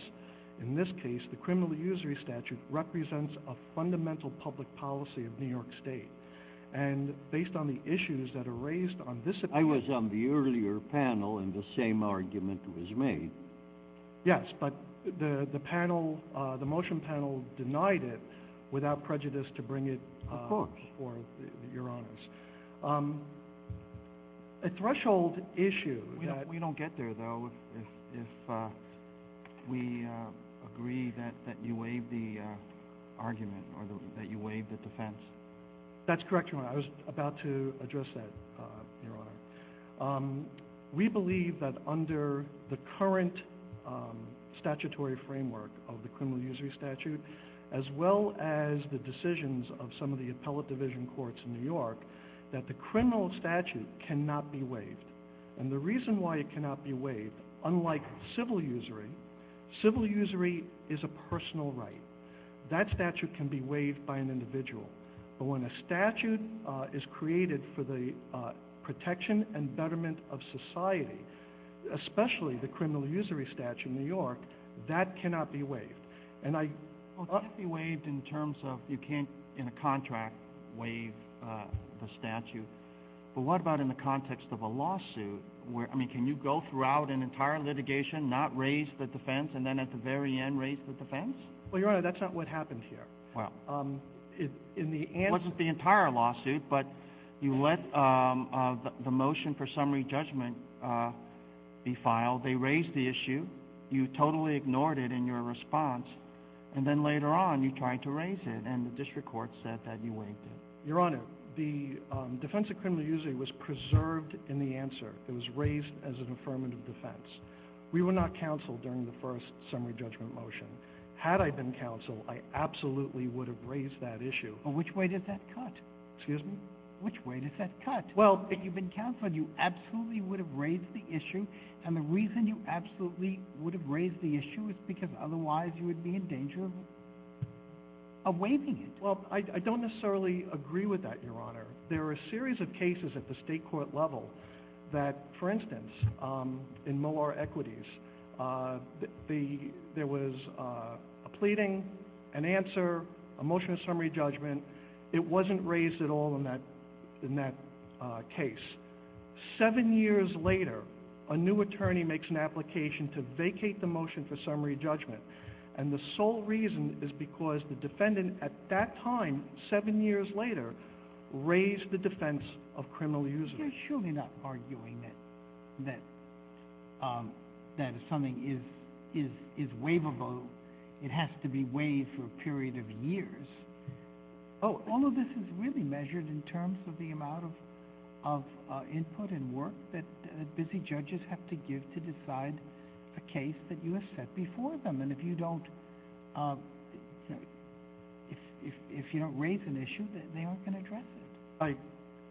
in this case the criminal usury statute represents a fundamental public policy of New York State, and based on the issues that are raised on this occasion... I was on the earlier panel and the same argument was made. Yes, but the motion panel denied it without prejudice to bring it before Your Honors. A threshold issue... We don't get there, though, if we agree that you waive the argument or that you waive the defense. That's correct, Your Honor. I was about to address that, Your Honor. We believe that under the current statutory framework of the criminal usury statute, as well as the decisions of some of the appellate division courts in New York, that the criminal statute cannot be waived. And the reason why it cannot be waived, unlike civil usury... Civil usury is a personal right. That statute can be waived by an individual. But when a statute is created for the protection and betterment of society, especially the criminal usury statute in New York, that cannot be waived. And it must be waived in terms of you can't, in a contract, waive the statute. But what about in the context of a lawsuit? I mean, can you go throughout an entire litigation, not raise the defense, and then at the very end raise the defense? Well, Your Honor, that's not what happens here. It wasn't the entire lawsuit, but you let the motion for summary judgment be filed. They raised the issue. You totally ignored it in your response, and then later on you tried to raise it, and the district court said that you waived it. Your Honor, the defense of criminal usury was preserved in the answer. It was raised as an affirmative defense. We were not counseled during the first summary judgment motion. Had I been counseled, I absolutely would have raised that issue. Well, which way did that cut? Excuse me? Which way did that cut? Well, if you'd been counseled, you absolutely would have raised the issue, and the reason you absolutely would have raised the issue is because otherwise you would be in danger of waiving it. Well, I don't necessarily agree with that, Your Honor. There are a series of cases at the state court level that, for instance, in Moore Equities, there was a pleading, an answer, a motion of summary judgment. It wasn't raised at all in that case. Seven years later, a new attorney makes an application to vacate the motion for summary judgment, and the sole reason is because the defendant at that time, seven years later, raised the defense of criminal usury. You're surely not arguing that a summing is waivable. It has to be waived for a period of years. Oh, all of this is really measured in terms of the amount of input and work that busy judges have to give to decide a case that you have set before them, and if you don't raise an issue, they aren't going to address it.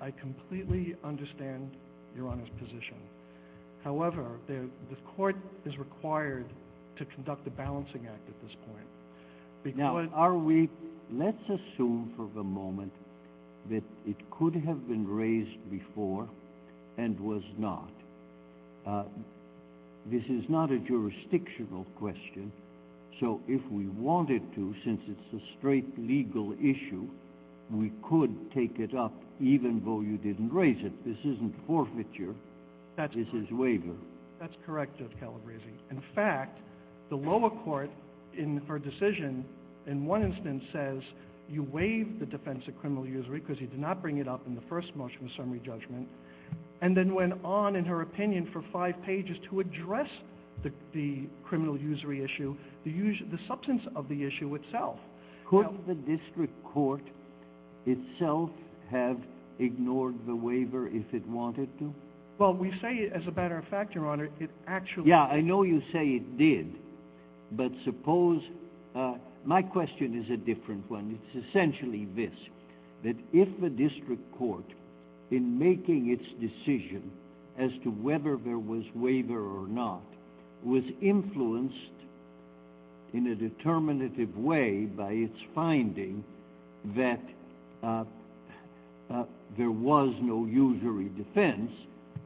I completely understand Your Honor's position. However, the court is required to conduct a balancing act at this point. Now, let's assume for the moment that it could have been raised before and was not. This is not a jurisdictional question, so if we wanted to, since it's a straight legal issue, we could take it up even though you didn't raise it. This isn't forfeiture. This is waiver. That's correct, Judge Calabresi. In fact, the lower court, in her decision, in one instance says you waive the defense of criminal usury because you did not bring it up in the first motion of summary judgment, and then went on, in her opinion, for five pages to address the criminal usury issue, the substance of the issue itself. Could the district court itself have ignored the waiver if it wanted to? Well, we say, as a matter of fact, Your Honor, it actually... Yeah, I know you say it did, but suppose... My question is a different one. It's essentially this, that if the district court, in making its decision as to whether there was waiver or not, was influenced in a determinative way by its finding that there was no usury defense,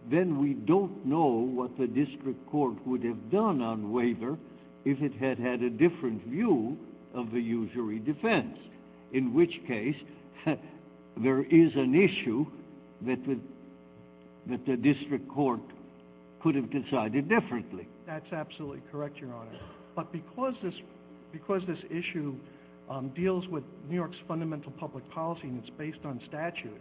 then we don't know what the district court would have done on waiver if it had had a different view of the usury defense, in which case there is an issue that the district court could have decided differently. That's absolutely correct, Your Honor. But because this issue deals with New York's fundamental public policy and it's based on statute,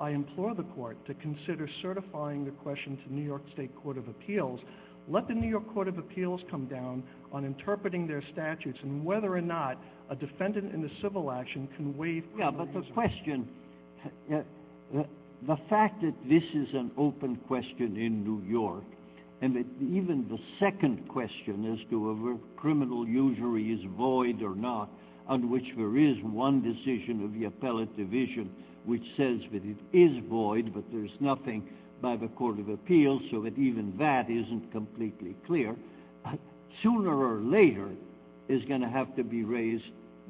I implore the court to consider certifying the question to New York State Court of Appeals. Let the New York Court of Appeals come down on interpreting their statutes and whether or not a defendant in a civil action can waive... Yeah, but the question... The fact that this is an open question in New York, and that even the second question as to whether criminal usury is void or not, on which there is one decision of the appellate division which says that it is void, but there's nothing by the Court of Appeals, so that even that isn't completely clear, sooner or later is going to have to be raised,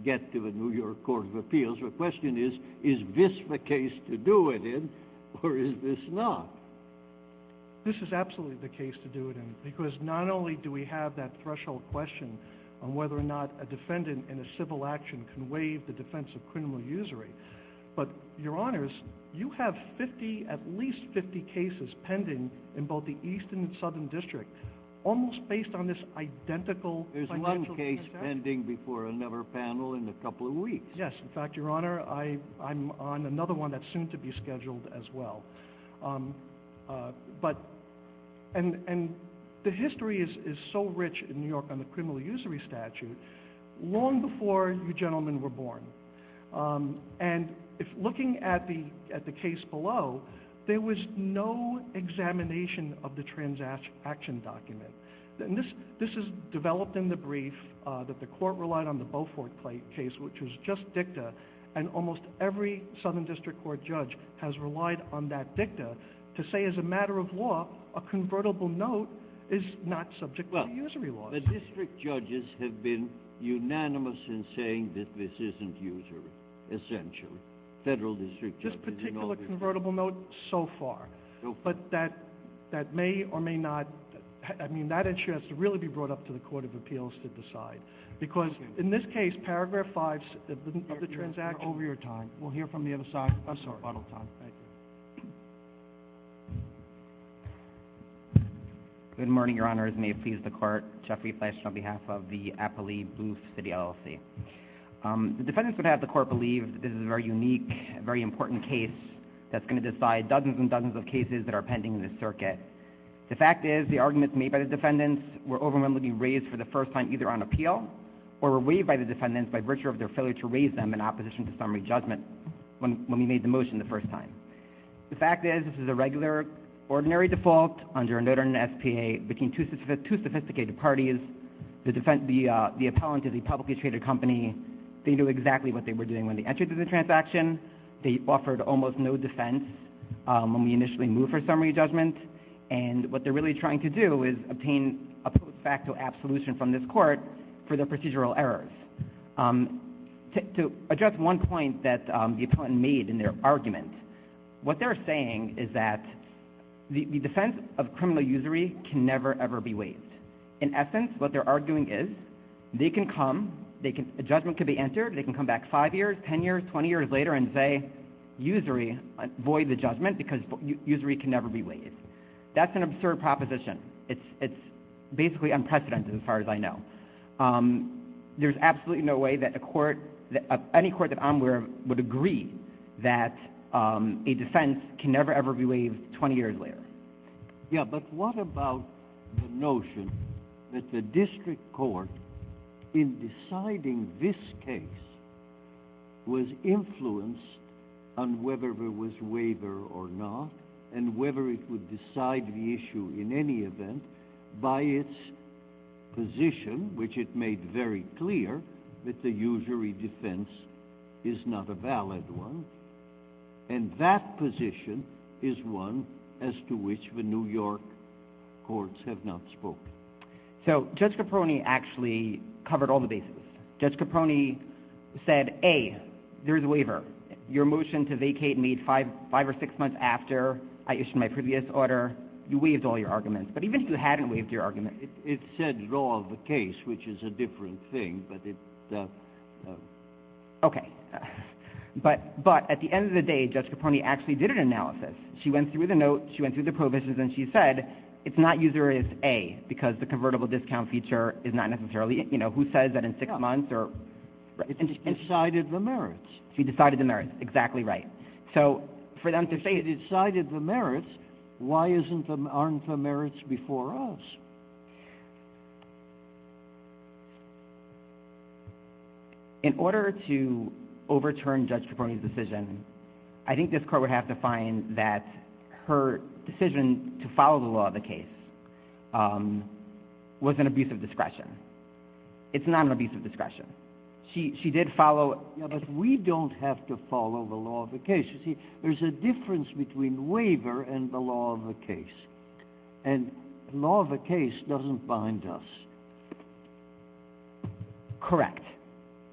get to the New York Court of Appeals. The question is, is this the case to do it in, or is this not? This is absolutely the case to do it in, because not only do we have that threshold question on whether or not a defendant in a civil action can waive the defense of criminal usury, but, Your Honors, you have at least 50 cases pending in both the East and Southern District, almost based on this identical... There's one case pending before another panel in a couple of weeks. Yes, in fact, Your Honor, I'm on another one that's soon to be scheduled as well. But... And the history is so rich in New York on the criminal usury statute, long before you gentlemen were born. And looking at the case below, there was no examination of the transaction document. This is developed in the brief that the Court relied on the Beaufort case, which was just dicta, and almost every Southern District Court judge has relied on that dicta to say, as a matter of law, a convertible note is not subject to usury law. But district judges have been unanimous in saying that this isn't usury, essentially. Federal district judges... This particular convertible note, so far. But that may or may not... I mean, that issue has to really be brought up to the Court of Appeals to decide. Because, in this case, paragraph 5 of the transaction... We're over your time. We'll hear from the other side. I'm sorry. We're out of time. Thank you. Good morning, Your Honors. May it please the Court. Jeffrey Flesch on behalf of the Appellee Booth City LLC. The defendants would have the Court believe this is a very unique, very important case that's going to decide dozens and dozens of cases that are pending in the circuit. The fact is, the arguments made by the defendants were overwhelmingly raised for the first time either on appeal or were waived by the defendants by virtue of their failure to raise them in opposition to summary judgment when we made the motion the first time. The fact is, this is a regular, ordinary default under a notary and SPA between two sophisticated parties. The appellant is a publicly traded company. They knew exactly what they were doing when they entered into the transaction. They offered almost no defense when we initially moved for summary judgment. And what they're really trying to do is obtain a facto absolution from this Court for their procedural errors. To address one point that the appellant made in their argument, what they're saying is that the defense of criminal usury can never, ever be waived. In essence, what they're arguing is, they can come, a judgment could be entered, they can come back five years, ten years, twenty years later and say, usury, void the judgment because usury can never be waived. That's an absurd proposition. It's basically unprecedented as far as I know. There's absolutely no way that any court that I'm aware of would agree that a defense can never, ever be waived twenty years later. Yeah, but what about the notion that the district court, in deciding this case, was influenced on whether there was waiver or not, and whether it would decide the issue in any event by its position, which it made very clear that the usury defense is not a valid one. And that position is one as to which the New York courts have not spoke. So, Judge Caproni actually covered all the bases. Judge Caproni said, A, there's a waiver. Your motion to vacate me five or six months after I issued my previous order, you waived all your arguments. But even if you hadn't waived your arguments. It said law of the case, which is a different thing, but it... Okay. But at the end of the day, Judge Caproni actually did an analysis. She went through the note, she went through the provisions, and she said, it's not usury, it's A, because the convertible discount feature is not necessarily, you know, who says that in six months or... She decided the merits. She decided the merits. Exactly right. So, for them to say they decided the merits, why aren't the merits before us? In order to overturn Judge Caproni's decision, I think this court would have to find that her decision to follow the law of the case was an abuse of discretion. It's not an abuse of discretion. She did follow... Yeah, but we don't have to follow the law of the case. You see, there's a difference between waiver and the law of the case. And law of the case doesn't bind us. Correct.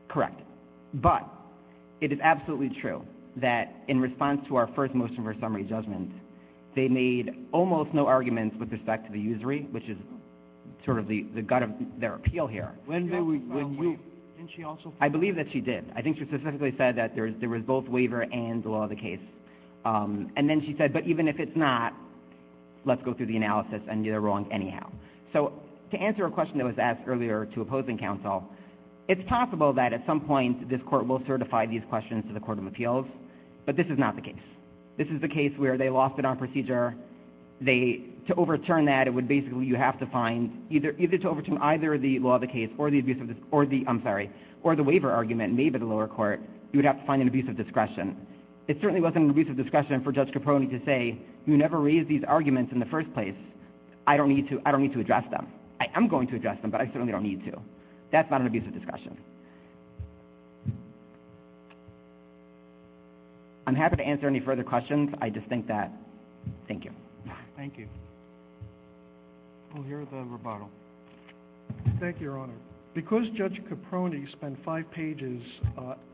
Correct. But it is absolutely true that in response to our first motion for summary judgment, they made almost no arguments with respect to the usury, which is sort of the gut of their appeal here. Didn't she also... I believe that she did. I think she specifically said that there was both waiver and the law of the case. And then she said, but even if it's not, let's go through the analysis and get it wrong anyhow. So, to answer a question that was asked earlier to opposing counsel, it's possible that at some point this court will certify these questions to the Court of Appeals, but this is not the case. This is the case where they lost it on procedure. To overturn that, it would basically... Either to overturn either the law of the case or the abuse of the... I'm sorry, or the waiver argument made by the lower court, you would have to find an abuse of discretion. It certainly wasn't an abuse of discretion for Judge Capone to say, you never raised these arguments in the first place. I don't need to address them. I am going to address them, but I certainly don't need to. That's not an abuse of discretion. I'm happy to answer any further questions. I just think that... Thank you. Thank you. We'll hear the rebuttal. Thank you, Your Honor. Because Judge Capone spent five pages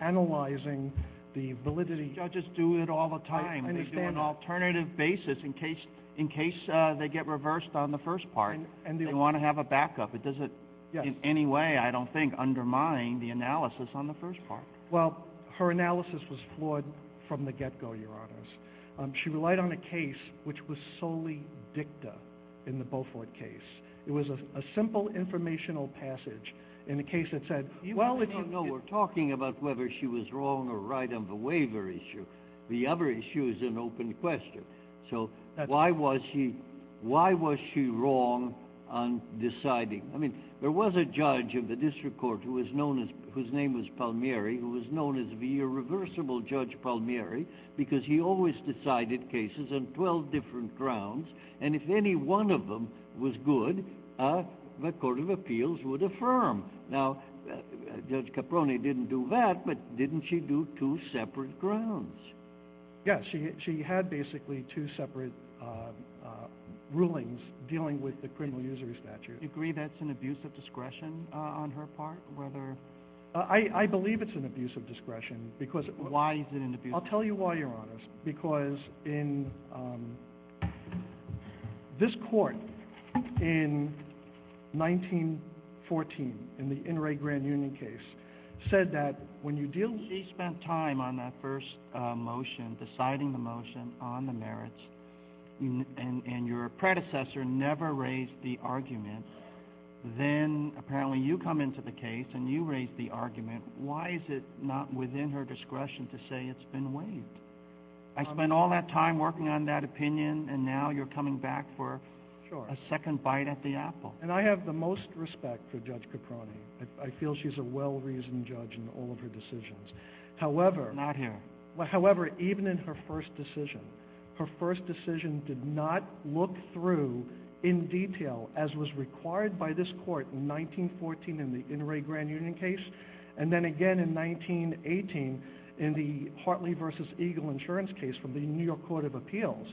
analyzing the validity... Judges do it all the time. I understand. They do an alternative basis in case they get reversed on the first part. And they want to have a backup. It doesn't in any way, I don't think, undermine the analysis on the first part. Well, her analysis was flawed from the get-go, Your Honors. She relied on a case which was solely dicta in the Beaufort case. It was a simple informational passage in a case that said... Well, no, we're talking about whether she was wrong or right on the waiver issue. The other issue is an open question. So why was she wrong on deciding? I mean, there was a judge of the district court whose name was Palmieri who was known as the irreversible Judge Palmieri because he always decided cases on 12 different grounds. And if any one of them was good, the Court of Appeals would affirm. Now, Judge Capone didn't do that, but didn't she do two separate grounds? Yes, she had basically two separate rulings dealing with the criminal usury statute. Do you agree that's an abuse of discretion on her part? I believe it's an abuse of discretion because... Why is it an abuse of discretion? I'll tell you why, Your Honors, because in this court in 1914, in the Inouye Grand Union case, said that when you deal with... She spent time on that first motion, deciding the motion on the merits, and your predecessor never raised the argument. Then apparently you come into the case and you raise the argument. Why is it not within her discretion to say it's been waived? I spent all that time working on that opinion, and now you're coming back for a second bite at the apple. And I have the most respect for Judge Capone. I feel she's a well-reasoned judge in all of her decisions. However... Not here. However, even in her first decision, her first decision did not look through in detail, as was required by this court in 1914 in the Inouye Grand Union case, and then again in 1918 in the Hartley v. Eagle insurance case from the New York Court of Appeals.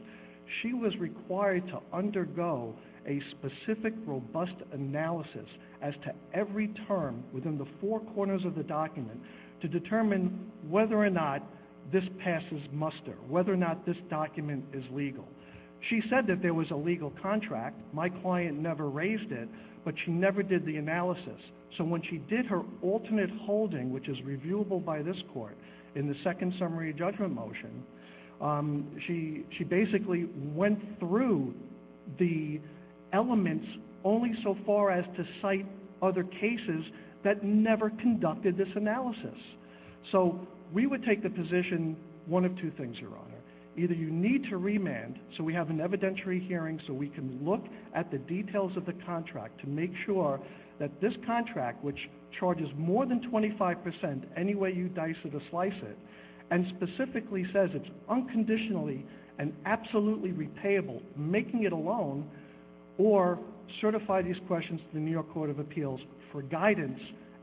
She was required to undergo a specific, robust analysis as to every term within the four corners of the document to determine whether or not this passes muster, whether or not this document is legal. She said that there was a legal contract. My client never raised it, but she never did the analysis. So when she did her alternate holding, which is reviewable by this court, in the second summary of judgment motion, she basically went through the elements only so far as to cite other cases that never conducted this analysis. So we would take the position one of two things, Your Honor. Either you need to remand so we have an evidentiary hearing so we can look at the details of the contract to make sure that this contract, which charges more than 25%, any way you dice it or slice it, and specifically says it's unconditionally and absolutely repayable, making it a loan, or certify these questions to the New York Court of Appeals for guidance,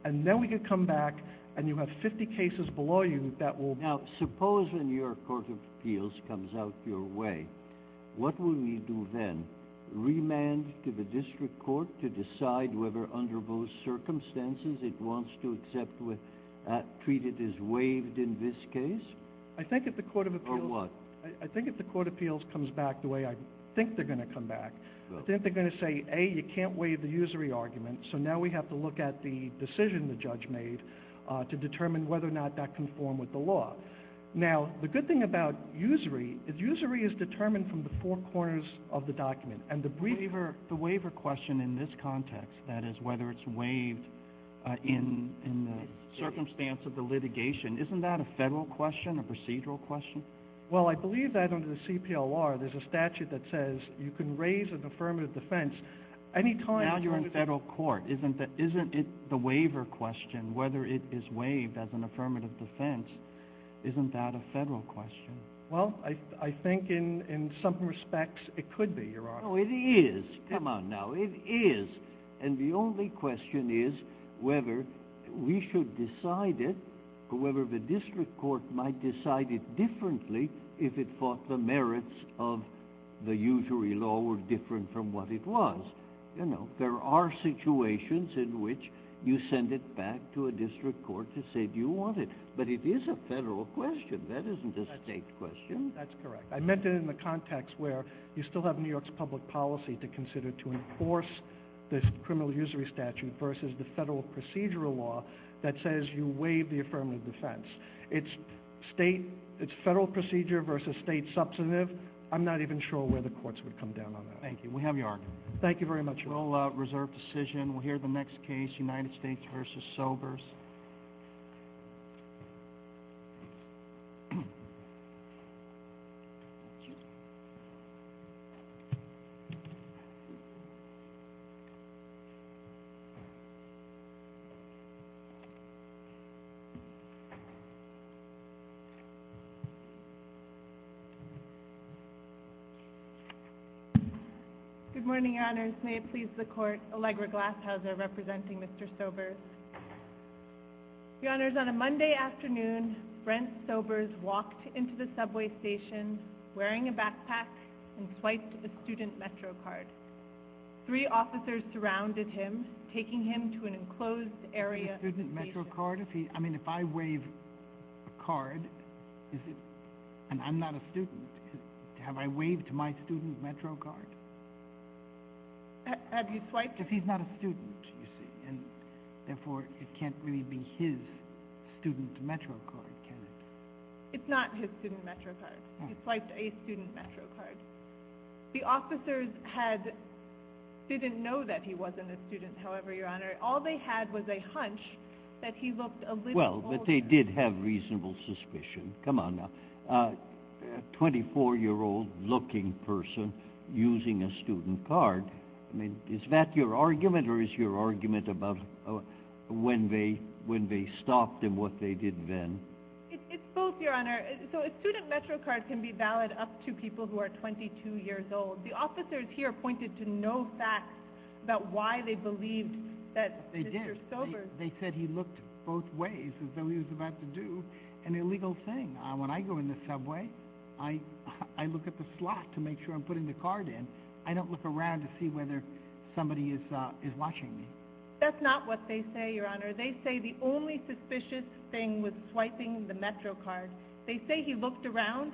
and then we can come back and you have 50 cases below you that will... Now, suppose the New York Court of Appeals comes out your way. What will you do then? Remand to the district court to decide whether under those circumstances it wants to treat it as waived in this case? I think if the Court of Appeals... Or what? I think if the Court of Appeals comes back the way I think they're going to come back, I think they're going to say, A, you can't waive the usury argument, so now we have to look at the decision the judge made to determine whether or not that conformed with the law. Now, the good thing about usury is usury is determined from the four corners of the document, and the waiver... The waiver question in this context, that is whether it's waived in the circumstance of the litigation, isn't that a federal question, a procedural question? Well, I believe that under the CPLR there's a statute that says you can raise an affirmative defense any time... Now you're in federal court. Isn't the waiver question, whether it is waived as an affirmative defense, isn't that a federal question? Well, I think in some respects it could be, Your Honor. Oh, it is. Come on now, it is. And the only question is whether we should decide it, or whether the district court might decide it differently if it fought the merits of the usury law were different from what it was. You know, there are situations in which you send it back to a district court to say, Do you want it? But it is a federal question. That isn't a state question. That's correct. I meant it in the context where you still have New York's public policy to consider to enforce this criminal usury statute versus the federal procedural law that says you waive the affirmative defense. It's federal procedure versus state substantive. I'm not even sure where the courts would come down on that. Thank you. We have your argument. Thank you very much, Your Honor. We'll reserve decision. We'll hear the next case, United States v. Sobers. Thank you. Good morning, Your Honors. May it please the Court, Allegra Glashauser representing Mr. Sobers. Your Honors, on a Monday afternoon, Brent Sobers walked into the subway station wearing a backpack and swiped a student metro card. Three officers surrounded him, taking him to an enclosed area. A student metro card? I mean, if I waive a card, and I'm not a student, have I waived my student metro card? Have you swiped it? Because he's not a student, you see, and therefore it can't really be his student metro card, can it? It's not his student metro card. He swiped a student metro card. The officers didn't know that he wasn't a student, however, Your Honor. All they had was a hunch that he looked a little older. Well, but they did have reasonable suspicion. Come on now. A 24-year-old-looking person using a student card, I mean, is that your argument or is your argument about when they stopped and what they did then? It's both, Your Honor. So a student metro card can be valid up to people who are 22 years old. The officers here pointed to no facts about why they believed that Mr. Sobers They did. They said he looked both ways as though he was about to do an illegal thing. When I go in the subway, I look at the slot to make sure I'm putting the card in. I don't look around to see whether somebody is watching me. That's not what they say, Your Honor. They say the only suspicious thing was swiping the metro card. They say he looked around.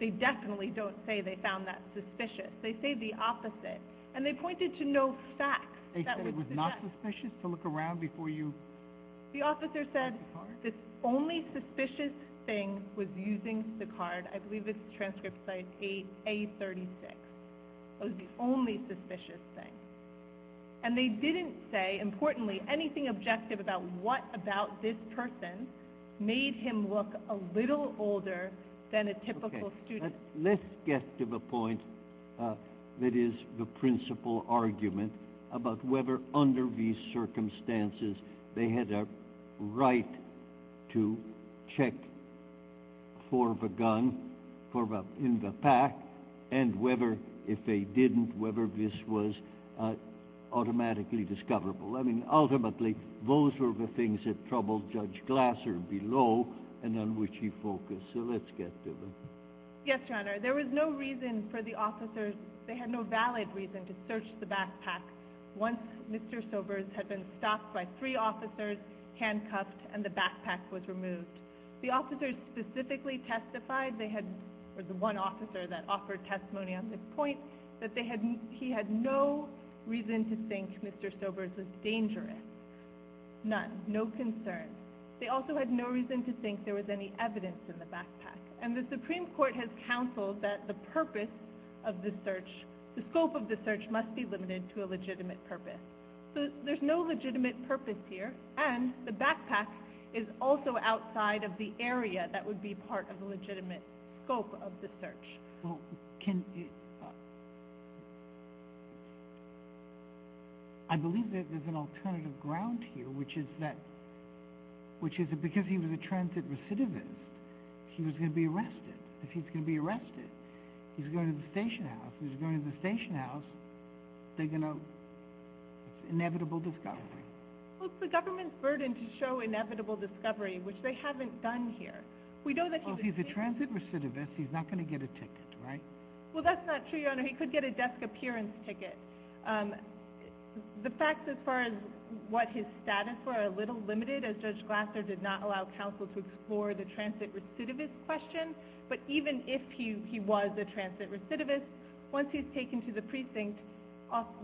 They definitely don't say they found that suspicious. They say the opposite, and they pointed to no facts. They said it was not suspicious to look around before you used the card. The officer said the only suspicious thing was using the card. I believe this transcript says A36. That was the only suspicious thing. And they didn't say, importantly, anything objective about what about this person made him look a little older than a typical student. Let's get to the point that is the principal argument about whether, under these circumstances, they had a right to check for the gun in the pack and whether, if they didn't, whether this was automatically discoverable. Ultimately, those were the things that troubled Judge Glasser below and on which he focused. So let's get to it. Yes, Your Honor. There was no reason for the officers. They had no valid reason to search the backpack. Once Mr. Sobers had been stopped by three officers, handcuffed, and the backpack was removed. The officers specifically testified, there was one officer that offered testimony on this point, that he had no reason to think Mr. Sobers was dangerous. None. No concern. They also had no reason to think there was any evidence in the backpack. And the Supreme Court has counseled that the purpose of the search, the scope of the search, must be limited to a legitimate purpose. So there's no legitimate purpose here, and the backpack is also outside of the area that would be part of the legitimate scope of the search. I believe there's an alternative ground here, which is that because he was a transit recidivist, he was going to be arrested. If he's going to be arrested, he's going to the station house. If he's going to the station house, they're going to inevitable discovery. Well, it's the government's burden to show inevitable discovery, which they haven't done here. If he's a transit recidivist, he's not going to get a ticket, right? Well, that's not true, Your Honor. He could get a desk appearance ticket. The facts as far as what his status were are a little limited, as Judge Glasser did not allow counsel to explore the transit recidivist question. But even if he was a transit recidivist, once he's taken to the precinct,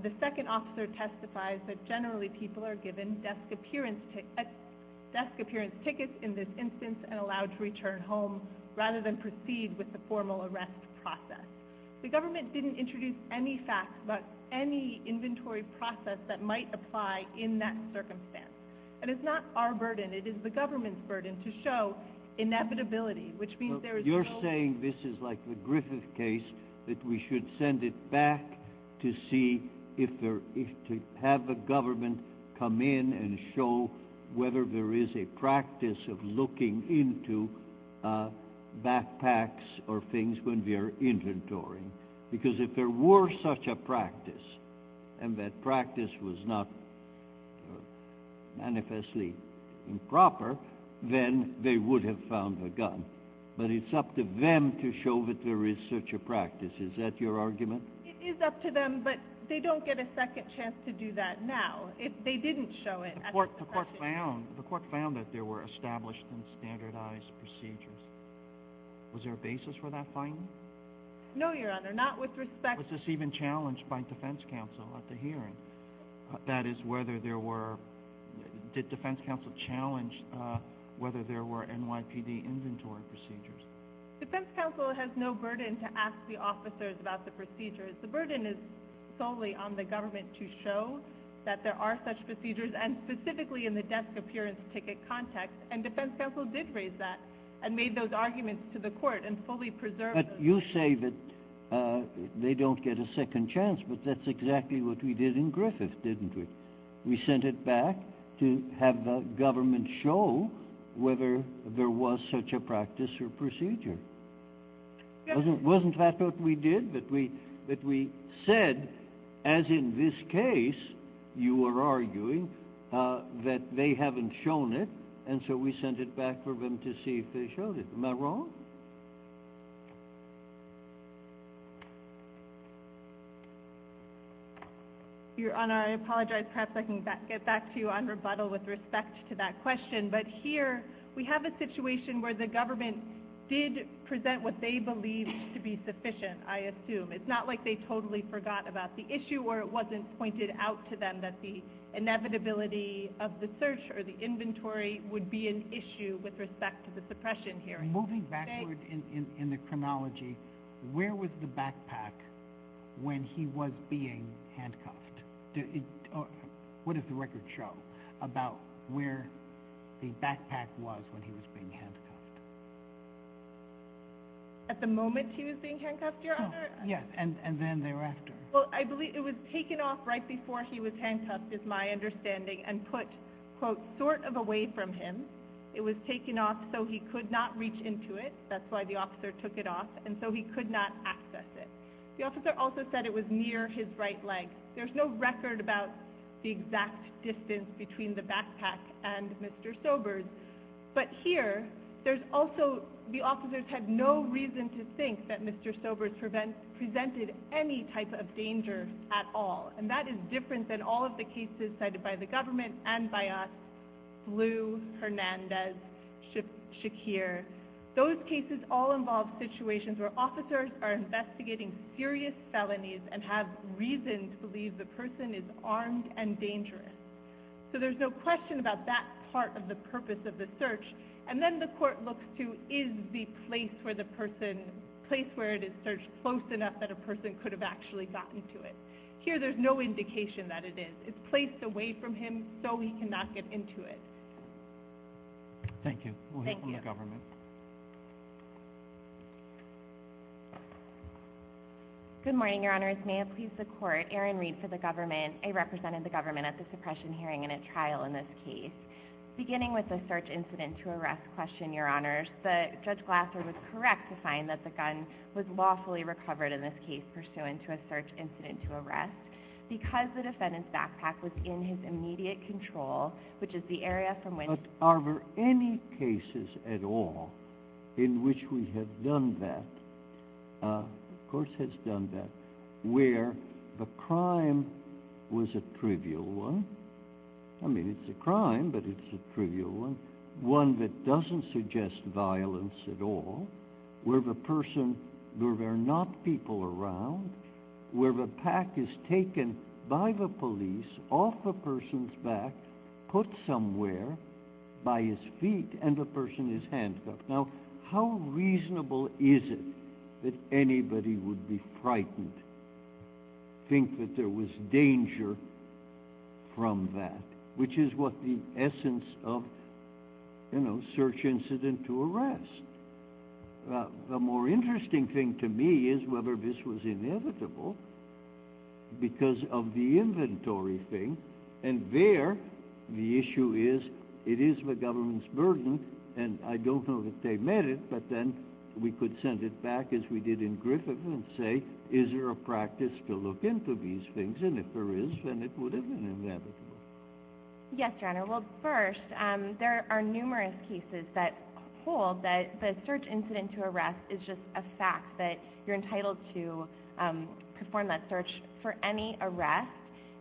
the second officer testifies that generally people are given desk appearance tickets in this instance and allowed to return home rather than proceed with the formal arrest process. The government didn't introduce any facts about any inventory process that might apply in that circumstance. And it's not our burden, it is the government's burden to show inevitability, which means there is no— You're saying this is like the Griffith case, that we should send it back to see if there— to have the government come in and show whether there is a practice of looking into backpacks or things when they're inventorying. Because if there were such a practice, and that practice was not manifestly improper, then they would have found a gun. But it's up to them to show that there is such a practice. Is that your argument? It is up to them, but they don't get a second chance to do that now. If they didn't show it— The court found that there were established and standardized procedures. Was there a basis for that finding? No, Your Honor, not with respect— Was this even challenged by defense counsel at the hearing? That is, whether there were— Did defense counsel challenge whether there were NYPD inventory procedures? Defense counsel has no burden to ask the officers about the procedures. The burden is solely on the government to show that there are such procedures, and specifically in the desk appearance ticket context. And defense counsel did raise that and made those arguments to the court and fully preserved them. But you say that they don't get a second chance, but that's exactly what we did in Griffith, didn't we? We sent it back to have the government show whether there was such a practice or procedure. Wasn't that what we did? But we said, as in this case, you were arguing, that they haven't shown it, and so we sent it back for them to see if they showed it. Ms. Monroe? Your Honor, I apologize. Perhaps I can get back to you on rebuttal with respect to that question. But here we have a situation where the government did present what they believed to be sufficient, I assume. It's not like they totally forgot about the issue, or it wasn't pointed out to them that the inevitability of the search or the inventory would be an issue with respect to the suppression here. Moving backwards in the chronology, where was the backpack when he was being handcuffed? What does the record show about where the backpack was when he was being handcuffed? At the moment he was being handcuffed, Your Honor? Yes, and then thereafter. Well, I believe it was taken off right before he was handcuffed, is my understanding, and put, quote, sort of away from him. It was taken off so he could not reach into it. That's why the officer took it off, and so he could not access it. The officer also said it was near his right leg. There's no record about the exact distance between the backpack and Mr. Sobers. But here, there's also the officers had no reason to think that Mr. Sobers presented any type of danger at all. And that is different than all of the cases cited by the government and by us, Blue, Hernandez, Shakir. Those cases all involve situations where officers are investigating serious felonies and have reason to believe the person is armed and dangerous. So there's no question about that part of the purpose of the search. And then the court looks to is the place where the person, the place where it is searched close enough that a person could have actually gotten to it. Here, there's no indication that it is. It's placed away from him so he cannot get into it. Thank you. We'll hear from the government. Good morning, Your Honors. May it please the court, Erin Reed for the government. I represented the government at the suppression hearing in a trial in this case. Beginning with the search incident to arrest question, Your Honors, the judge Glasser was correct to find that the gun was lawfully recovered in this case pursuant to a search incident to arrest because the defendant's backpack was in his immediate control, which is the area from which- But are there any cases at all in which we have done that, the court has done that, where the crime was a trivial one? I mean, it's a crime, but it's a trivial one. One that doesn't suggest violence at all, where the person, where there are not people around, where the pack is taken by the police off a person's back, put somewhere by his feet, and the person is handcuffed. Now, how reasonable is it that anybody would be frightened, think that there was danger from that, which is what the essence of, you know, search incident to arrest. The more interesting thing to me is whether this was inevitable because of the inventory thing, and there the issue is, it is the government's burden, and I don't know that they met it, but then we could send it back as we did in Griffith and say, is there a practice to look into these things, and if there is, then it would have been inevitable. Yes, Your Honor. Well, first, there are numerous cases that hold that the search incident to arrest is just a fact, that you're entitled to perform that search for any arrest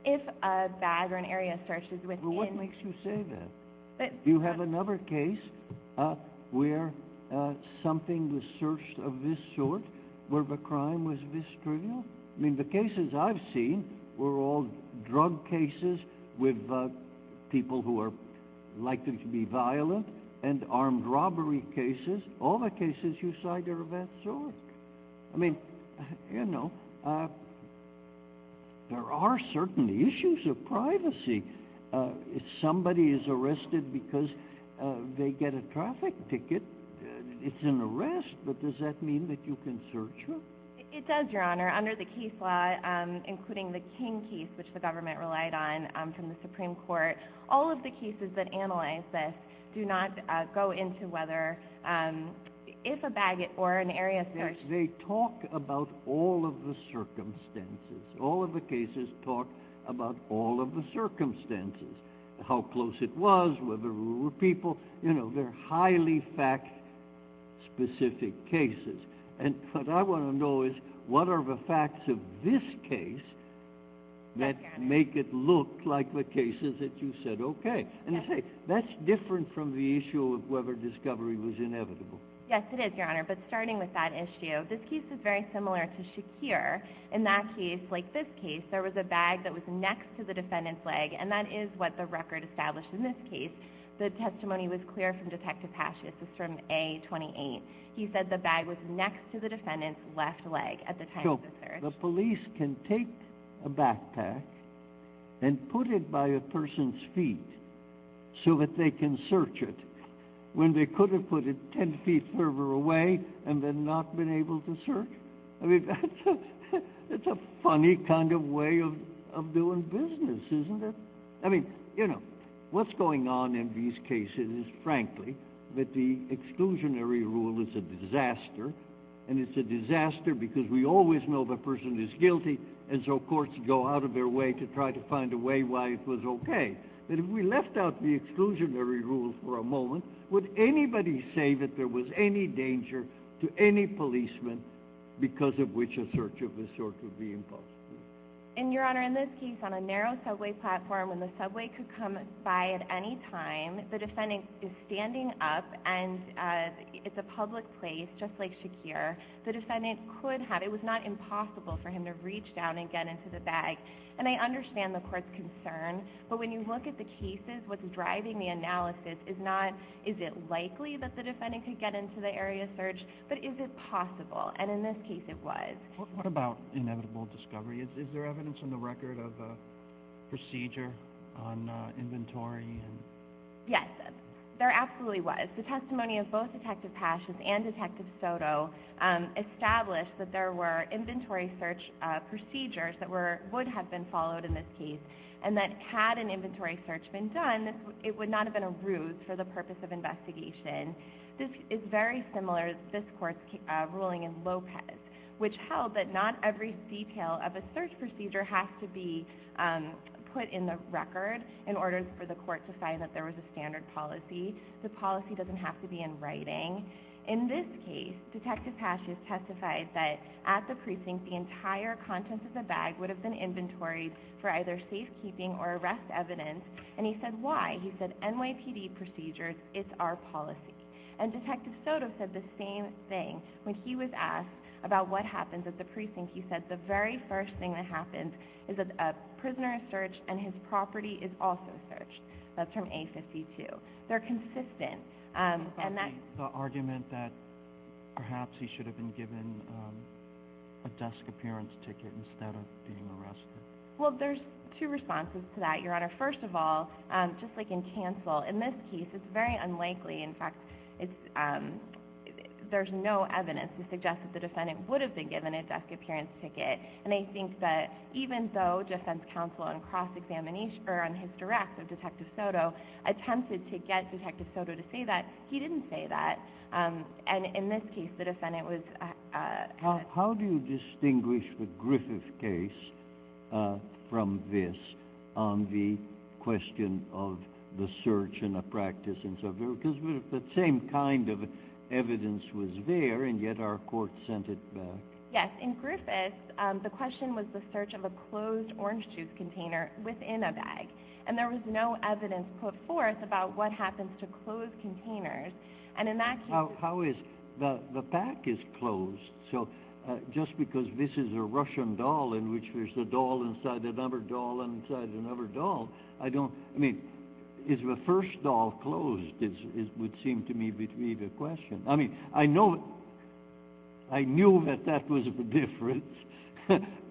if a bag or an area searches within- Well, what makes you say that? Do you have another case where something was searched of this sort, where the crime was this trivial? I mean, the cases I've seen were all drug cases with people who are likely to be violent, and armed robbery cases, all the cases you cite are of that sort. I mean, you know, there are certain issues of privacy. If somebody is arrested because they get a traffic ticket, it's an arrest, but does that mean that you can search them? It does, Your Honor. Under the case law, including the King case, which the government relied on from the Supreme Court, all of the cases that analyze this do not go into whether if a bag or an area searches- They talk about all of the circumstances. All of the cases talk about all of the circumstances, how close it was, whether there were people. You know, they're highly fact-specific cases. And what I want to know is, what are the facts of this case that make it look like the cases that you said, okay? And see, that's different from the issue of whether discovery was inevitable. Yes, it is, Your Honor. But starting with that issue, this case is very similar to Shakir. In that case, like this case, there was a bag that was next to the defendant's leg, and that is what the record established in this case. The testimony was clear from Detective Pashas. It's from A-28. He said the bag was next to the defendant's left leg at the time of the search. So the police can take a backpack and put it by a person's feet so that they can search it. When they could have put it 10 feet further away and then not been able to search. I mean, that's a funny kind of way of doing business, isn't it? I mean, you know, what's going on in these cases is, frankly, that the exclusionary rule is a disaster. And it's a disaster because we always know the person is guilty, and so courts go out of their way to try to find a way why it was okay. But if we left out the exclusionary rule for a moment, would anybody say that there was any danger to any policeman because of which a search of this sort could be impossible? And, Your Honor, in this case, on a narrow subway platform, when the subway could come by at any time, the defendant is standing up and it's a public place, just like Shakir. The defendant could have, it was not impossible for him to reach down and get into the bag. And I understand the court's concern. But when you look at the cases, what's driving the analysis is not, is it likely that the defendant could get into the area of search, but is it possible? And in this case, it was. What about inevitable discovery? Is there evidence in the record of a procedure on inventory? Yes, there absolutely was. The testimony of both Detective Pash and Detective Soto established that there were inventory search procedures that would have been followed in this case. And that had an inventory search been done, it would not have been a ruse for the purpose of investigation. This is very similar to this court's ruling in Lopez, which held that not every detail of a search procedure has to be put in the record in order for the court to say that there was a standard policy. The policy doesn't have to be in writing. In this case, Detective Pash has testified that at the precinct, the entire contents of the bag would have been inventoried for either safekeeping or arrest evidence. And he said, why? He said, NYPD procedures, it's our policy. And Detective Soto said the same thing. When he was asked about what happens at the precinct, he said, the very first thing that happens is that a prisoner is searched and his property is also searched. That's from A52. They're consistent. The argument that perhaps he should have been given a desk appearance ticket instead of being arrested. Well, there's two responses to that, Your Honor. First of all, just like in Cancel, in this case, it's very unlikely. In fact, there's no evidence to suggest that the defendant would have been given a desk appearance ticket. And I think that even though defense counsel on cross-examination, Detective Soto, attempted to get Detective Soto to say that, he didn't say that. And in this case, the defendant was- How do you distinguish the Griffith case from this on the question of the search and the practice and so forth? Because the same kind of evidence was there, and yet our court sent it back. Yes. In Griffith, the question was the search of a closed orange juice container within a bag. And there was no evidence put forth about what happens to closed containers. And in that case- How is- The pack is closed. So just because this is a Russian doll in which there's a doll inside another doll inside another doll, I don't- I mean, is the first doll closed would seem to me to be the question. I mean, I know- I knew that that was the difference.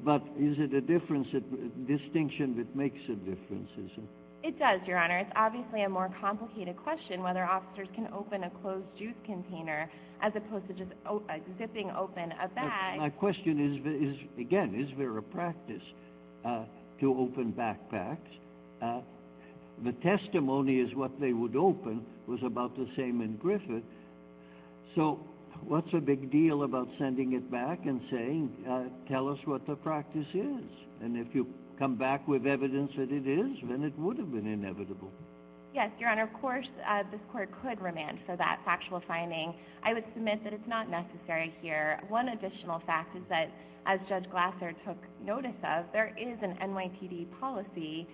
But is it a difference, a distinction that makes a difference, is it? It does, Your Honor. It's obviously a more complicated question, whether officers can open a closed juice container as opposed to just zipping open a bag. My question is, again, is there a practice to open backpacks? The testimony is what they would open was about the same in Griffith. So what's the big deal about sending it back and saying, tell us what the practice is? And if you come back with evidence that it is, then it would have been inevitable. Yes, Your Honor. Of course, this court could remand for that factual finding. I would submit that it's not necessary here. One additional fact is that, as Judge Glasser took notice of, there is an NYPD policy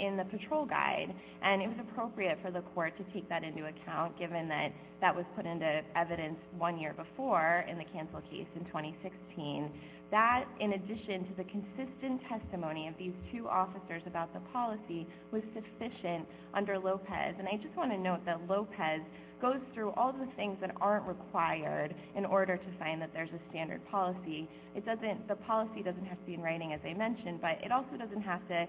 in the patrol guide. And it was appropriate for the court to take that into account, given that that was put into evidence one year before in the cancel case in 2016. That, in addition to the consistent testimony of these two officers about the policy, was sufficient under Lopez. And I just want to note that Lopez goes through all the things that aren't required in order to find that there's a standard policy. The policy doesn't have to be in writing, as I mentioned, but it also doesn't have to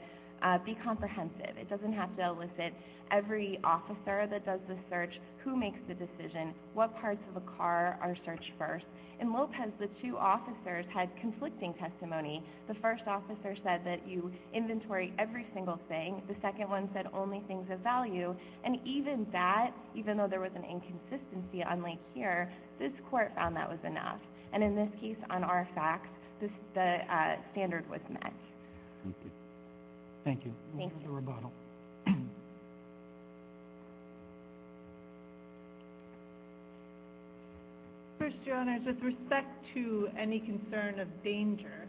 be comprehensive. It doesn't have to elicit every officer that does the search, who makes the decision, what parts of a car are searched first. In Lopez, the two officers had conflicting testimony. The first officer said that you inventory every single thing. The second one said only things of value. And even that, even though there was an inconsistency on Lake Sierra, this court found that was enough. And in this case, on RFX, the standard was met. Thank you. Thank you. Thank you. First, your Honor, with respect to any concern of danger,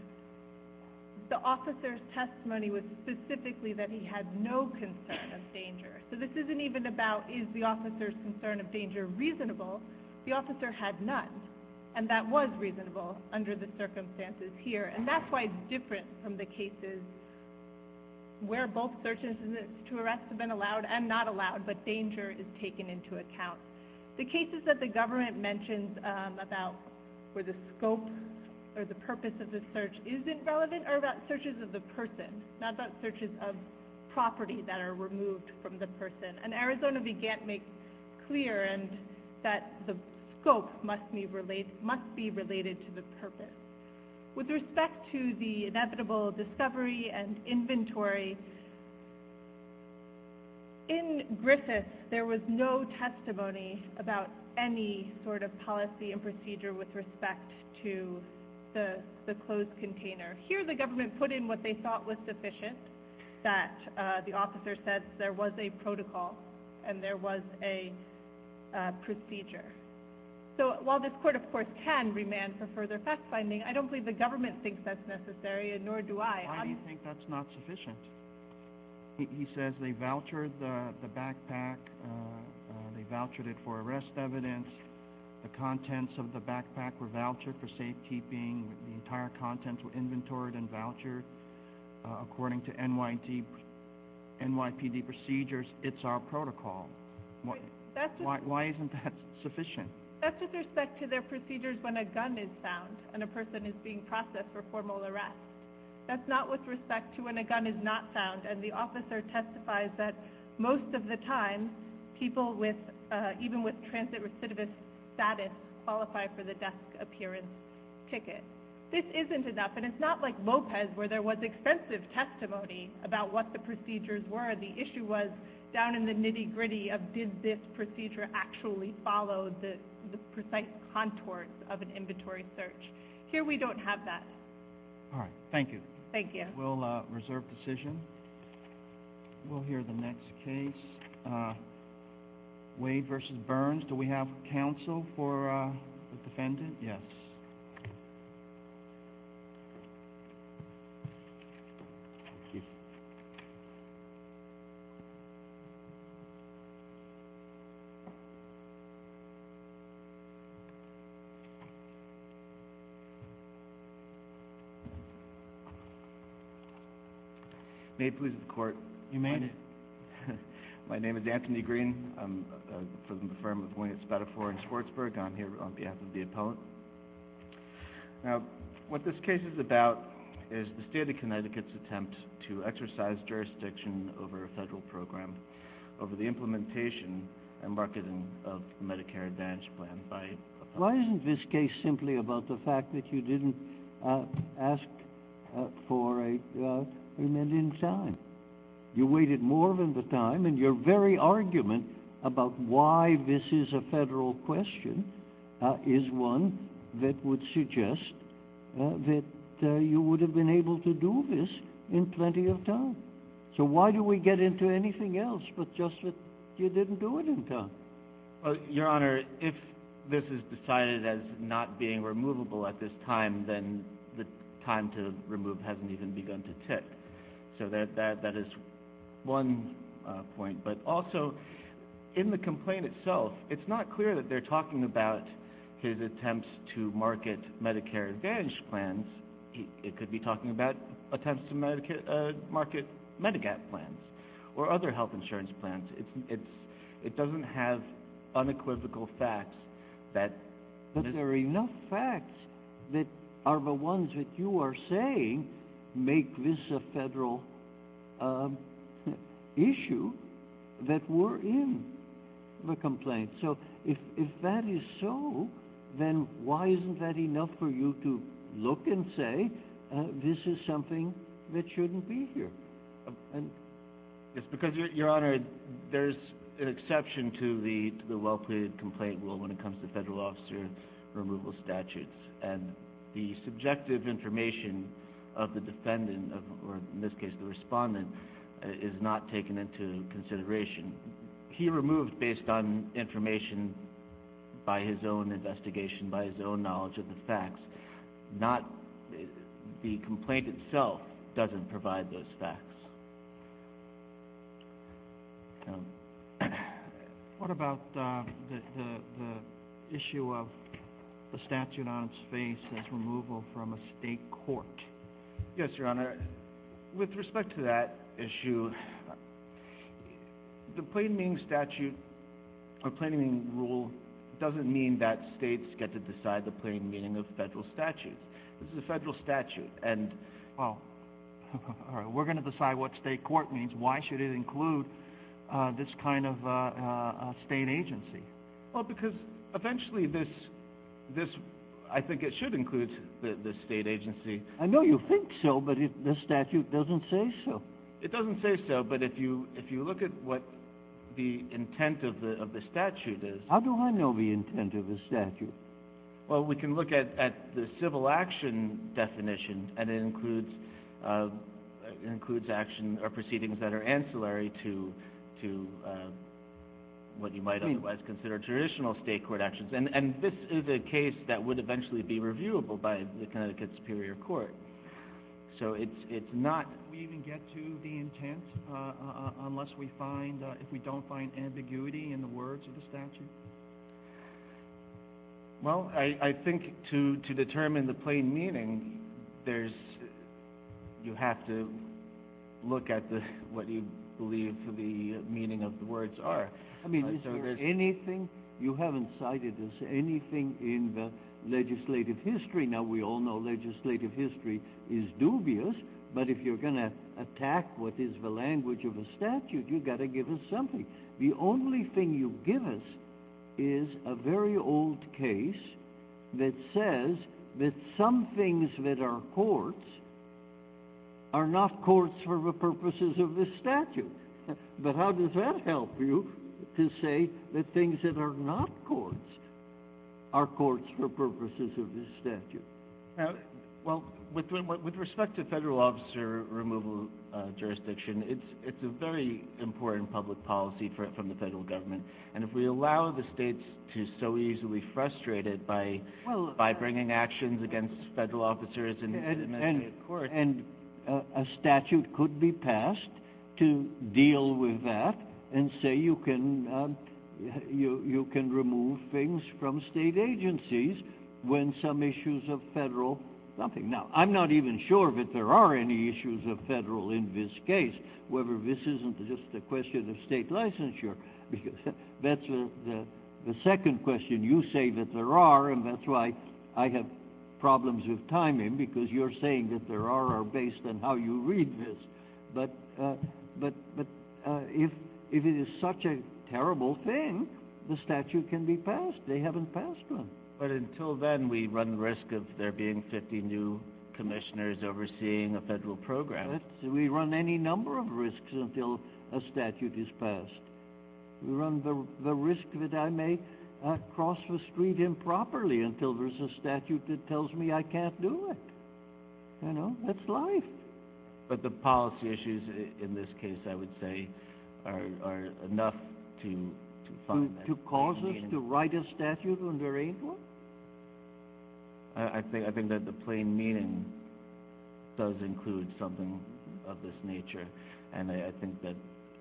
the officer's testimony was specifically that he had no concern of danger. So this isn't even about is the officer's concern of danger reasonable. The officer had none. And that was reasonable under the circumstances here. And that's why it's different from the cases where both search instances to arrest have been allowed and not allowed, but danger is taken into account. The cases that the government mentions about where the scope or the purpose of the search is irrelevant are about searches of the person, not about searches of property that are removed from the person. And Arizona began to make clear that the scope must be related to the purpose. With respect to the inevitable discovery and inventory, in Griffith, there was no testimony about any sort of policy and procedure with respect to the closed container. Here the government put in what they thought was sufficient, that the officer said there was a protocol and there was a procedure. So while this court, of course, can remand for further fact-finding, I don't believe the government thinks that's necessary and nor do I. Why do you think that's not sufficient? He says they vouchered the backpack, they vouchered it for arrest evidence, the contents of the backpack were vouchered for safekeeping, the entire contents were inventoried and vouchered according to NYPD procedures. It's our protocol. Why isn't that sufficient? That's with respect to their procedures when a gun is found and a person is being processed for formal arrest. That's not with respect to when a gun is not found and the officer testifies that most of the time, people even with transit recidivist status qualify for the desk appearance ticket. This isn't enough, and it's not like Lopez where there was extensive testimony about what the procedures were. The issue was down in the nitty-gritty of did this procedure actually follow the precise contours of an inventory search. Here we don't have that. All right, thank you. Thank you. We'll reserve decision. We'll hear the next case. Wade v. Burns, do we have counsel for the defendant? Yes. May it please the court. You may. My name is Anthony Green. I'm from the firm of Winnett Spadafore in Schwartzburg, and I'm here on behalf of the opponent. Now, what this case is about is the state of Connecticut's attempt to exercise jurisdiction over a federal program over the implementation and marketing of the Medicare Advantage plan by... Why isn't this case simply about the fact that you didn't ask for an end in time? You waited more than the time, and your very argument about why this is a federal question is one that would suggest that you would have been able to do this in plenty of time. So why do we get into anything else but just that you didn't do it in time? Your Honor, if this is decided as not being removable at this time, then the time to remove hasn't even begun to tick. So that is one point. But also, in the complaint itself, it's not clear that they're talking about his attempts to market Medicare Advantage plans. It could be talking about attempts to market Medigap plans or other health insurance plans. It doesn't have unequivocal facts that... issue that were in the complaint. So if that is so, then why isn't that enough for you to look and say, this is something that shouldn't be here? Because, Your Honor, there's an exception to the well-created complaint rule when it comes to federal officer removal statutes. And the subjective information of the defendant, or in this case, the respondent, is not taken into consideration. He removed based on information by his own investigation, by his own knowledge of the facts. The complaint itself doesn't provide those facts. What about the issue of the statute on its face as removal from a state court? Yes, Your Honor. With respect to that issue, the plain meaning rule doesn't mean that states get to decide the plain meaning of federal statutes. This is a federal statute. Well, we're going to decide what state court means. Why should it include this kind of state agency? Well, because eventually this... I think it should include this state agency. I know you think so, but the statute doesn't say so. It doesn't say so, but if you look at what the intent of the statute is... Well, we can look at the civil action definition, and it includes proceedings that are ancillary to what you might otherwise consider traditional state court actions. And this is a case that would eventually be reviewable by the Connecticut Superior Court. So it's not... We can get to the intent unless we find... if we don't find ambiguity in the words of the statute? Well, I think to determine the plain meaning, there's... you have to look at what you believe to be the meaning of the words are. I mean, is there anything... you haven't cited us anything in the legislative history. Now, we all know legislative history is dubious, but if you're going to attack what is the language of the statute, you've got to give us something. The only thing you give us is a very old case that says that some things that are courts are not courts for the purposes of this statute. But how does that help you to say that things that are not courts are courts for purposes of this statute? Well, with respect to federal officer removal jurisdiction, it's a very important public policy from the federal government. And if we allow the states to so easily be frustrated by bringing actions against federal officers... And a statute could be passed to deal with that and say you can remove things from state agencies when some issues of federal... The second question, you say that there are, and that's why I have problems with timing, because you're saying that there are based on how you read this. But if it is such a terrible thing, the statute can be passed. They haven't passed one. But until then, we run the risk of there being 50 new commissioners overseeing a federal program. We run any number of risks until a statute is passed. We run the risk that I may cross the street improperly until there's a statute that tells me I can't do it. You know, that's life. But the policy issues in this case, I would say, are enough to fund that. To cause us to write a statute when we're able? I think that the plain meaning does include something of this nature. And I think that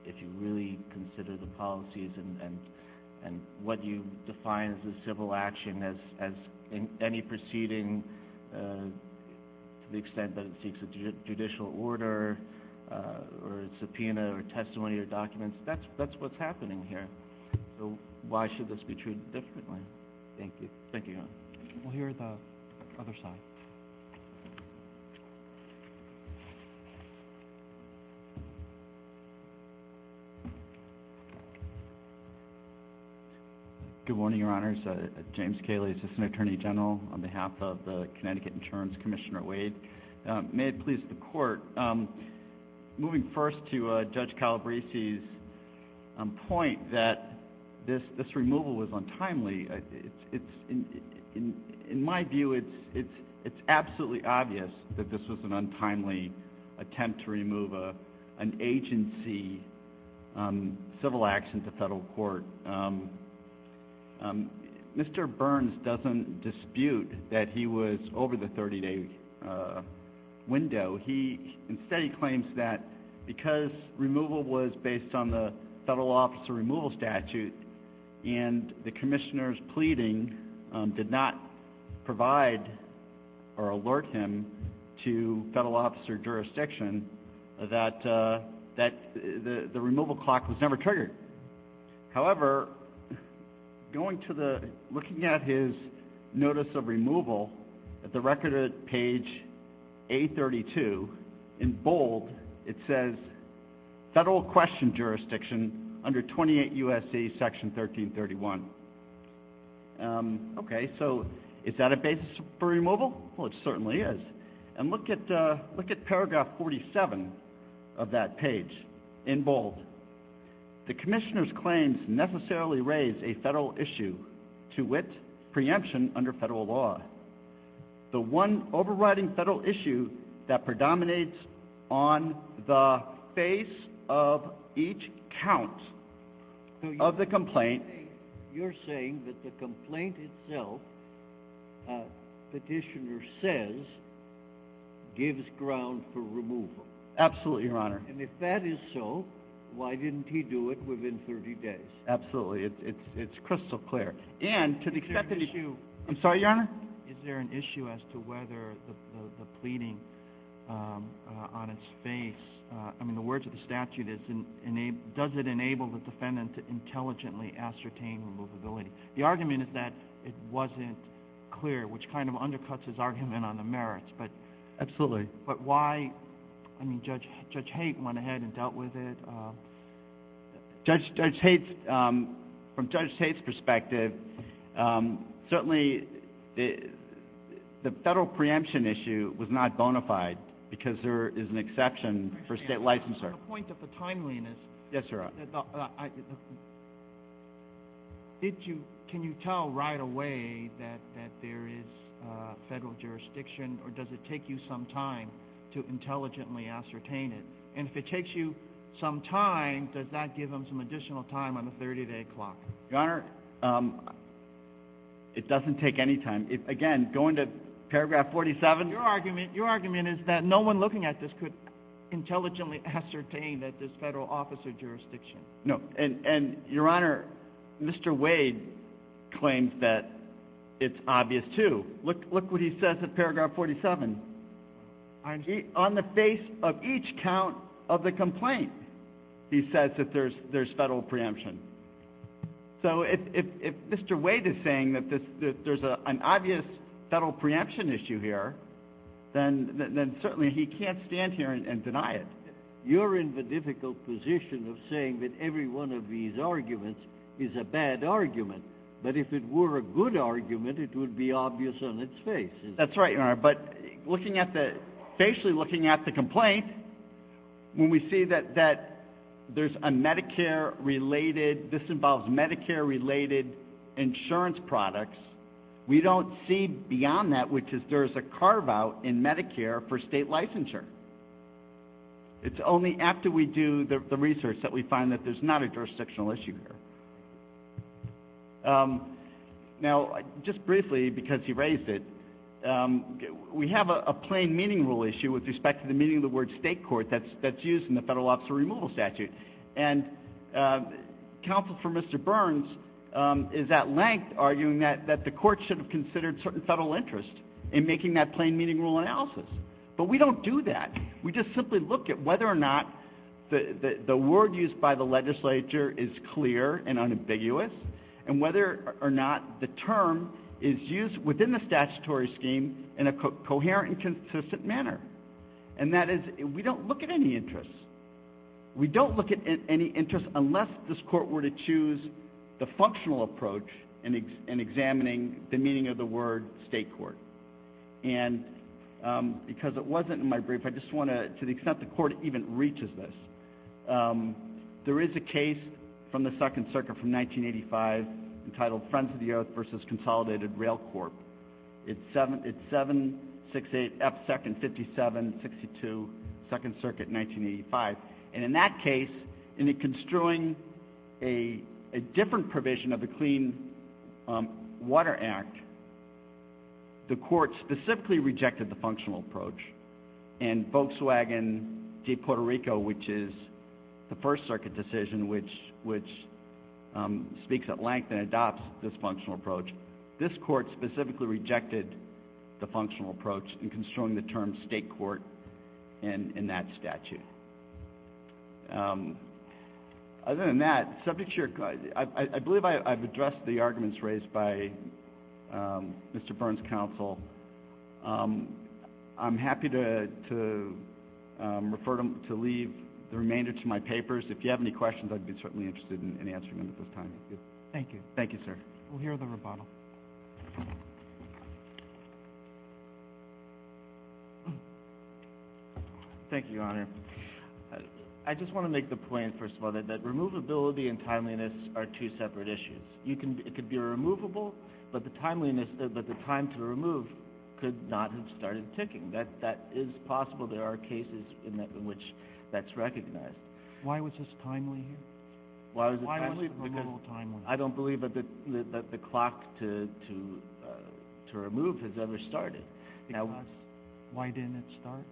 if you really consider the policies and what you define as a civil action as any proceeding to the extent that it seeks a judicial order or a subpoena or testimony or documents, that's what's happening here. So why should this be treated differently? Thank you. Thank you. We'll hear the other side. Good morning, Your Honors. James Cayley, Assistant Attorney General on behalf of the Connecticut Insurance Commissioner Wade. May it please the Court, moving first to Judge Calabrese's point that this removal was untimely. In my view, it's absolutely obvious that this was an untimely attempt to remove an agency civil action to federal court. Mr. Burns doesn't dispute that he was over the 30-day window. Instead, he claims that because removal was based on the federal officer removal statute and the Commissioner's pleading did not provide or alert him to federal officer jurisdiction, that the removal clock was never triggered. However, looking at his notice of removal, at the record of page 832, in bold, it says federal question jurisdiction under 28 U.S.C. section 1331. Okay, so is that a basis for removal? Well, it certainly is. And look at paragraph 47 of that page in bold. The Commissioner's claims necessarily raise a federal issue to which preemption under federal law, the one overriding federal issue that predominates on the face of each count of the complaint. So you're saying that the complaint itself, that Petitioner says, gives ground for removal? Absolutely, Your Honor. And if that is so, why didn't he do it within 30 days? Absolutely, it's crystal clear. And to the second issue... I'm sorry, Your Honor? Is there an issue as to whether the pleading on its face, I mean, the words of the statute, does it enable the defendant to intelligently ascertain removability? The argument is that it wasn't clear, which kind of undercuts his argument on the merits. Absolutely. But why, I mean, Judge Haidt went ahead and dealt with it. Judge Haidt, from Judge Haidt's perspective, certainly the federal preemption issue was not bona fide because there is an exception for state licensure. To the point of the timeliness... Yes, Your Honor. Can you tell right away that there is federal jurisdiction, or does it take you some time to intelligently ascertain it? And if it takes you some time, does that give him some additional time on the 30-day clock? Your Honor, it doesn't take any time. Again, going to paragraph 47... Your argument is that no one looking at this could intelligently ascertain that there's federal office or jurisdiction. No, and Your Honor, Mr. Wade claims that it's obvious, too. Look what he says in paragraph 47. On the face of each count of the complaint, he says that there's federal preemption. So if Mr. Wade is saying that there's an obvious federal preemption issue here, then certainly he can't stand here and deny it. You're in the difficult position of saying that every one of these arguments is a bad argument. That if it were a good argument, it would be obvious on its face. That's right, Your Honor. But basically looking at the complaint, when we see that this involves Medicare-related insurance products, we don't see beyond that, which is there's a carve-out in Medicare for state licensure. It's only after we do the research that we find that there's not a jurisdictional issue here. Now, just briefly, because he raised it, we have a plain meaning rule issue with respect to the meaning of the word state court that's used in the Federal Office of Removal Statute. And counsel for Mr. Burns is at length arguing that the court should have considered certain federal interests in making that plain meaning rule analysis. But we don't do that. We just simply look at whether or not the word used by the legislature is clear and unambiguous and whether or not the term is used within the statutory scheme in a coherent and consistent manner. And that is, we don't look at any interests. We don't look at any interests unless this court were to choose the functional approach in examining the meaning of the word state court. And because it wasn't in my brief, I just want to, to the extent the court even reaches this, there is a case from the Second Circuit from 1985 entitled Friends of the Earth v. Consolidated Rail Corp. It's 768F2-5762, Second Circuit, 1985. And in that case, in construing a different provision of the Clean Water Act, the court specifically rejected the functional approach. And Volkswagen v. Puerto Rico, which is the First Circuit decision, which speaks at length and adopts this functional approach, this court specifically rejected the functional approach in construing the term state court in that statute. Other than that, I believe I've addressed the arguments raised by Mr. Burns' counsel. I'm happy to leave the remainder to my papers. If you have any questions, I'd be certainly interested in answering them at this time. Thank you. Thank you, sir. We'll hear the rebuttal. Thank you, Your Honor. I just want to make the point, first of all, that removability and timeliness are two separate issues. It could be removable, but the time to remove could not have started ticking. That is possible. There are cases in which that's recognized. Why was this timely? Why was the removal timely? I don't believe that the clock to remove has ever started. Why didn't it start?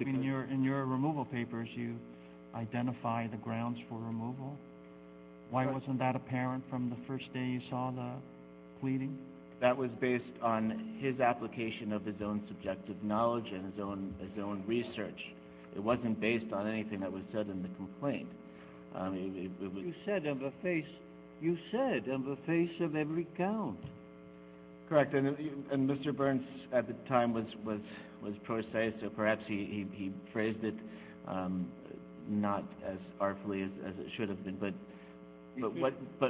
In your removal papers, you identify the grounds for removal. Why wasn't that apparent from the first day you saw the pleading? That was based on his application of his own subjective knowledge and his own research. It wasn't based on anything that was said in the complaint. You said, in the face of every count. Correct. Mr. Burns, at the time, was poor say, so perhaps he phrased it not as artfully as it should have been.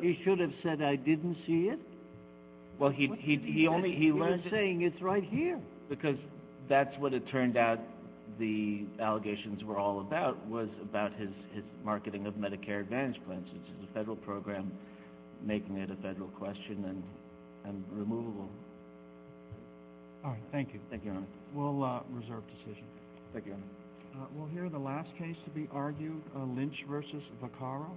He should have said, I didn't see it. He was saying, it's right here. Because that's what it turned out the allegations were all about, was about his marketing of Medicare Advantage plans. It's the federal program making it a federal question and removal. Thank you. We'll reserve the session. Thank you. We'll hear the last case to be argued, Lynch v. Vaccaro.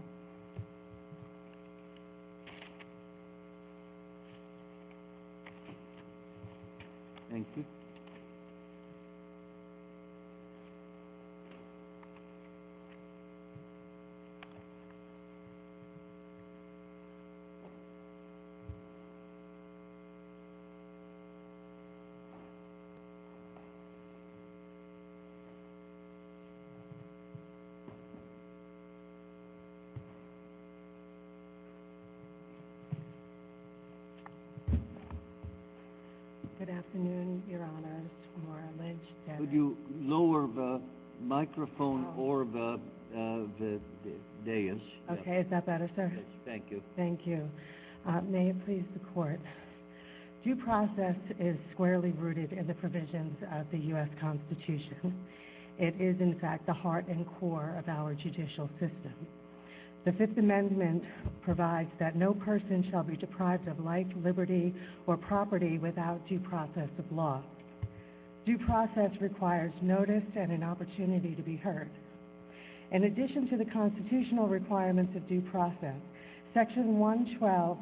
Thank you. Good afternoon, Your Honor. Could you lower the microphone for the deus? Okay, is that better, sir? Thank you. Thank you. May it please the court. Due process is squarely rooted in the provisions of the U.S. Constitution. It is, in fact, the heart and core of our judicial system. The Fifth Amendment provides that no person shall be deprived of life, liberty, or property without due process of law. Due process requires notice and an opportunity to be heard. In addition to the constitutional requirements of due process, Section 112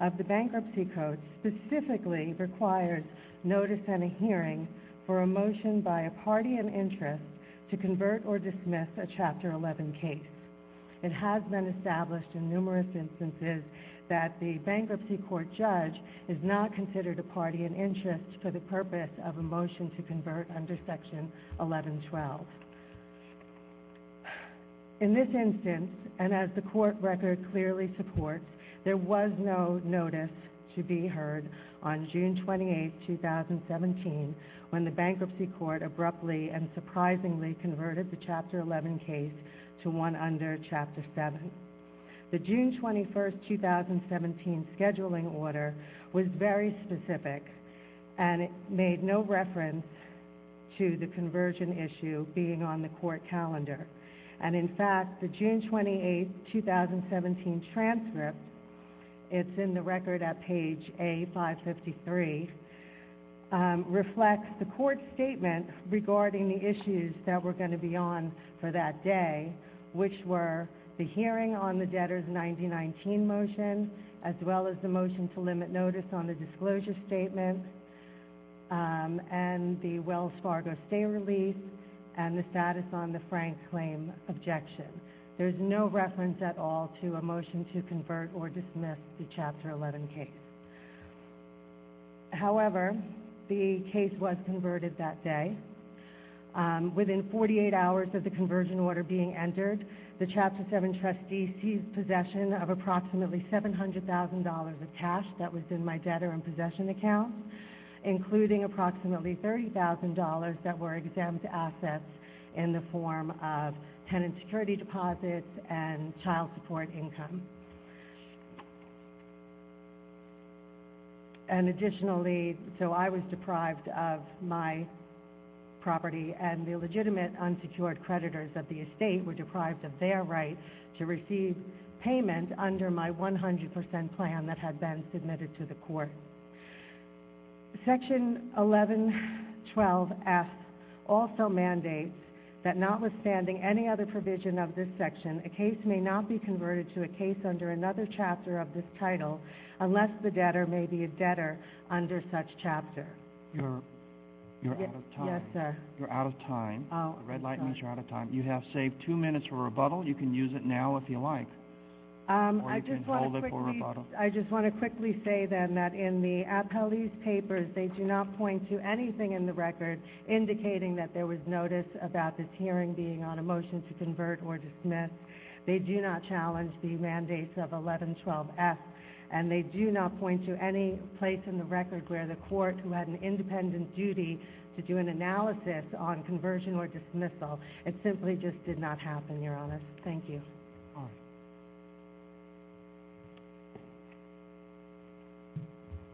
of the Bankruptcy Code specifically requires notice and a hearing for a motion by a party in interest to convert or dismiss a Chapter 11 case. It has been established in numerous instances that the bankruptcy court judge is not considered a party in interest for the purpose of a motion to convert under Section 1112. In this instance, and as the court record clearly supports, there was no notice to be heard on June 28, 2017, when the bankruptcy court abruptly and surprisingly converted the Chapter 11 case to one under Chapter 7. The June 21, 2017, scheduling order was very specific, and it made no reference to the conversion issue being on the court calendar. And, in fact, the June 28, 2017 transcript, it's in the record at page A553, reflects the court statement regarding the issues that were going to be on for that day, which were the hearing on the debtors' 1919 motion, as well as the motion to limit notice on the disclosure statement, and the Wells Fargo stay release, and the status on the Frank claim objection. There's no reference at all to a motion to convert or dismiss the Chapter 11 case. However, the case was converted that day. Within 48 hours of the conversion order being entered, the Chapter 7 trustee seized possession of approximately $700,000 of cash that was in my debtor in possession account, including approximately $30,000 that were exempt assets in the form of tenant security deposits and child support income. And additionally, so I was deprived of my property, and the legitimate unsecured creditors of the estate were deprived of their right to receive payment under my 100% plan that had been submitted to the court. Section 1112F also mandates that notwithstanding any other provision of this section, a case may not be converted to a case under another chapter of this title unless the debtor may be a debtor under such chapter. You're out of time. Yes, sir. You're out of time. The red light means you're out of time. You have saved two minutes for rebuttal. You can use it now if you like. Or you can hold it for rebuttal. I just want to quickly say, then, that in the appellee's papers, they do not point to anything in the record indicating that there was notice about this hearing being on a motion to convert or dismiss. They do not challenge the mandates of 1112F, and they do not point to any place in the record where the court led an independent duty to do an analysis on conversion or dismissal. It simply just did not happen, Your Honor. Thank you. Your Honor.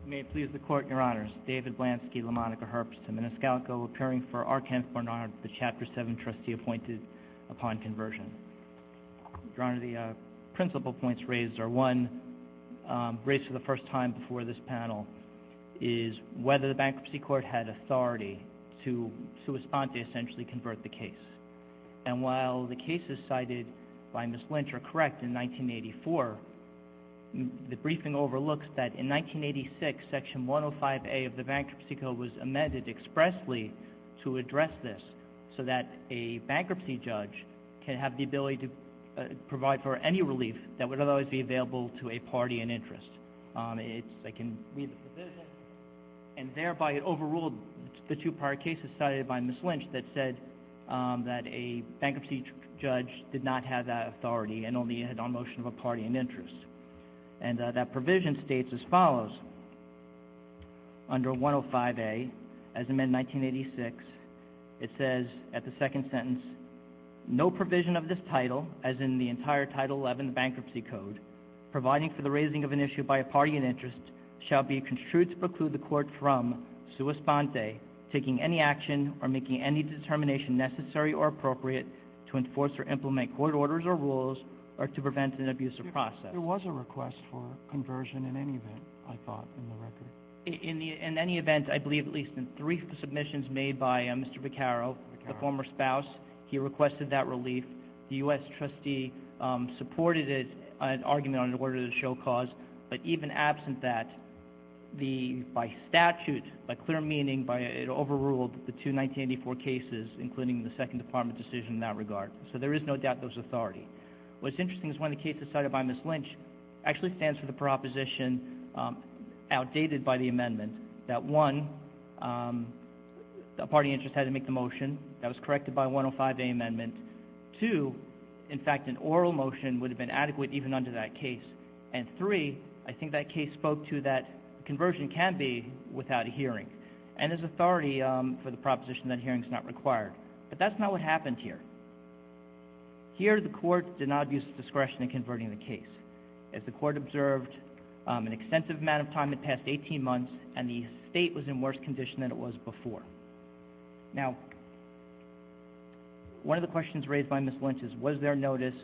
If you may please the Court, Your Honors. David Blansky, LaMonica Herbst, and Menescalco, appearing for Arkans-Barnard, the Chapter 7 trustee appointed upon conversion. Your Honor, the principal points raised are one, raised for the first time before this panel, is whether the bankruptcy court had authority to respond to essentially convert the case. And while the cases cited by Ms. Lynch are correct in 1984, the briefing overlooks that in 1986, Section 105A of the Bankruptcy Code was amended expressly to address this so that a bankruptcy judge can have the ability to provide for any relief that would otherwise be available to a party in interest. And thereby it overruled the two prior cases cited by Ms. Lynch that said that a bankruptcy judge did not have that authority and only had a motion of a party in interest. And that provision states as follows. Under 105A, as amended in 1986, it says at the second sentence, no provision of this title, as in the entire Title 11 Bankruptcy Code, providing for the raising of an issue by a party in interest, shall be construed to preclude the court from, sua sponte, taking any action or making any determination necessary or appropriate to enforce or implement court orders or rules or to prevent an abusive process. There was a request for conversion in any of that, I thought, in the record. In any event, I believe at least in three submissions made by Mr. Vaccaro, the former spouse, he requested that relief. The U.S. trustee supported it on an argument on the order to show cause. But even absent that, by statute, by clear meaning, it overruled the two 1984 cases, including the Second Department decision in that regard. So there is no doubt there was authority. What's interesting is one of the cases cited by Ms. Lynch actually stands for the proposition outdated by the amendment. That one, a party in interest had to make the motion. That was corrected by 105A amendment. Two, in fact, an oral motion would have been adequate even under that case. And three, I think that case spoke to that conversion can be without a hearing. And there's authority for the proposition that a hearing is not required. But that's not what happened here. Here, the court did not abuse discretion in converting the case. As the court observed, an extensive amount of time had passed, 18 months, and the state was in worse condition than it was before. Now, one of the questions raised by Ms. Lynch is was there notice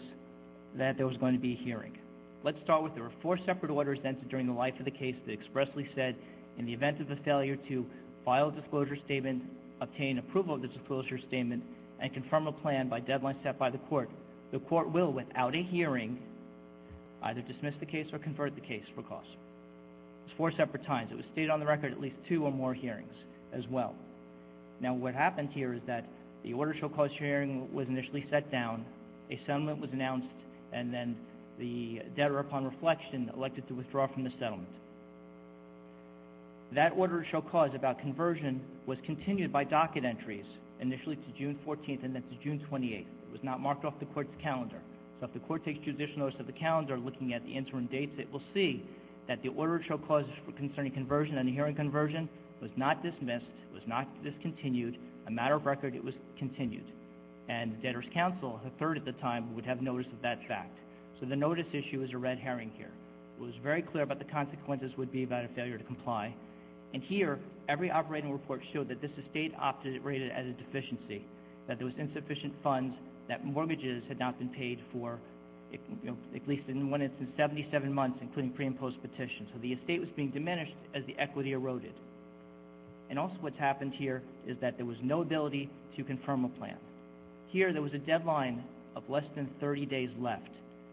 that there was going to be a hearing? Let's start with there were four separate orders entered during the life of the case that expressly said, in the event of a failure to file a disclosure statement, obtain approval of the disclosure statement, and confirm a plan by deadline set by the court, the court will, without a hearing, either dismiss the case or convert the case for cost. Four separate times. It was stated on the record at least two or more hearings as well. Now, what happened here is that the order shall cause hearing was initially set down, a settlement was announced, and then the debtor, upon reflection, elected to withdraw from the settlement. That order shall cause about conversion was continued by docket entries initially to June 14th and then to June 28th. It was not marked off the court's calendar. So if the court takes judicial notice of the calendar looking at the interim dates, it will see that the order shall cause concerning conversion and the hearing conversion was not dismissed, was not discontinued. A matter of record, it was continued. And debtor's counsel, a third of the time, would have notice of that fact. So the notice issue is a red herring here. It was very clear about the consequences would be about a failure to comply. And here, every operating report showed that this estate opted rated as a deficiency, that there was insufficient funds, that mortgages had not been paid for at least in one instance 77 months, including pre- and post-petition. So the estate was being diminished as the equity eroded. And also what's happened here is that there was no ability to confirm a plan. Here, there was a deadline of less than 30 days left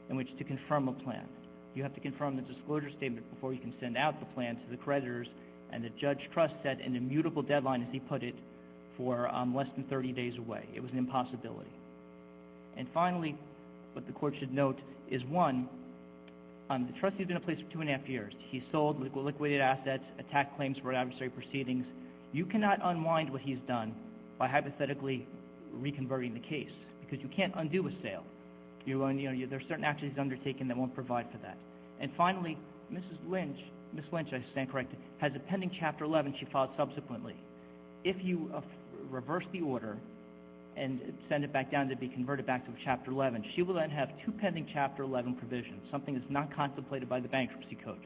in which to confirm a plan. You have to confirm the disclosure statement before you can send out the plan to the creditors, and the judge trusts that an immutable deadline, as he put it, for less than 30 days away. It was an impossibility. And finally, what the court should note is, one, the trustee has been in place for two and a half years. He sold liquidated assets, attacked claims for adversary proceedings. You cannot unwind what he's done by hypothetically reconverting the case because you can't undo a sale. There are certain actions undertaken that won't provide for that. And finally, Mrs. Lynch, I stand corrected, has a pending Chapter 11 she filed subsequently. If you reverse the order and send it back down to be converted back to Chapter 11, she will then have two pending Chapter 11 provisions, something that's not contemplated by the Bankruptcy Code.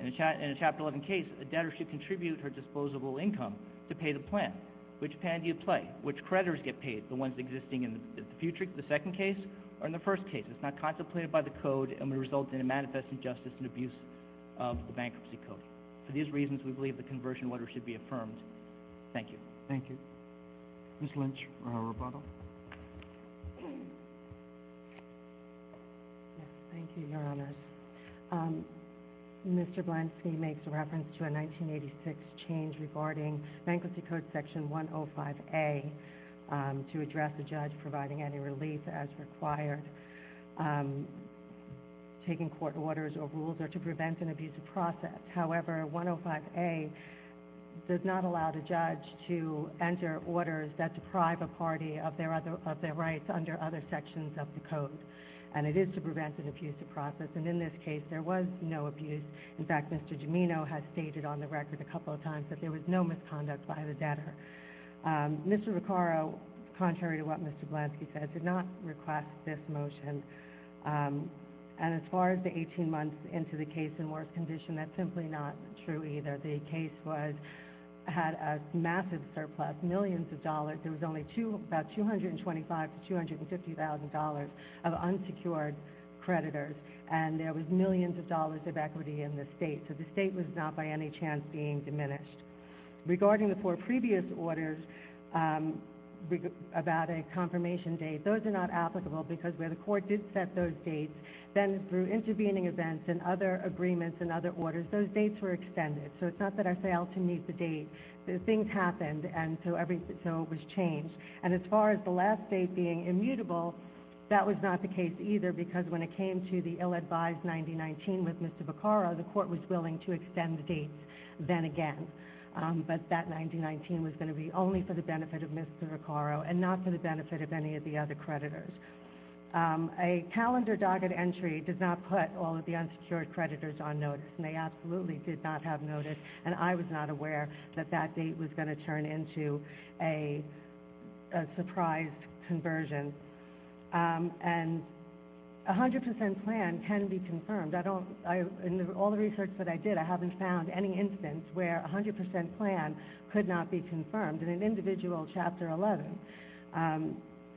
In a Chapter 11 case, a debtor should contribute her disposable income to pay the plan. Which plan do you play? Which creditors get paid, the ones existing in the future, the second case, or in the first case? It's not contemplated by the code and would result in a manifest injustice and abuse of the Bankruptcy Code. For these reasons, we believe the conversion order should be affirmed. Thank you. Thank you. Mrs. Lynch for her rebuttal. Thank you, Your Honor. Mr. Blansky makes reference to a 1986 change regarding Bankruptcy Code Section 105A to address the judge providing any relief as required. Taking court orders or rules are to prevent an abuse of process. However, 105A does not allow the judge to enter orders that deprive a party of their rights under other sections of the code. And it is to prevent an abuse of process. And in this case, there was no abuse. In fact, Mr. Domeno has stated on the record a couple of times that there was no misconduct by the debtor. Mr. Recaro, contrary to what Mr. Blansky said, did not request this motion. And as far as the 18 months into the case in worse condition, that's simply not true either. The case had a massive surplus, millions of dollars. There was only about $225,000 to $250,000 of unsecured creditors. And there was millions of dollars of equity in the state. So the state was not by any chance being diminished. Regarding the four previous orders about a confirmation date, those are not applicable because where the court did set those dates, then through intervening events and other agreements and other orders, those dates were extended. So it's not that I failed to meet the date. Things happened, and so it was changed. And as far as the last date being immutable, that was not the case either because when it came to the ill-advised 9019 with Mr. Recaro, the court was willing to extend the dates then again. But that 9019 was going to be only for the benefit of Mr. Recaro and not for the benefit of any of the other creditors. A calendar docket entry does not put all of the unsecured creditors on notice, and they absolutely did not have notice. And I was not aware that that date was going to turn into a surprise conversion. And a 100 percent plan can be confirmed. In all the research that I did, I haven't found any instance where a 100 percent plan could not be confirmed in an individual Chapter 11.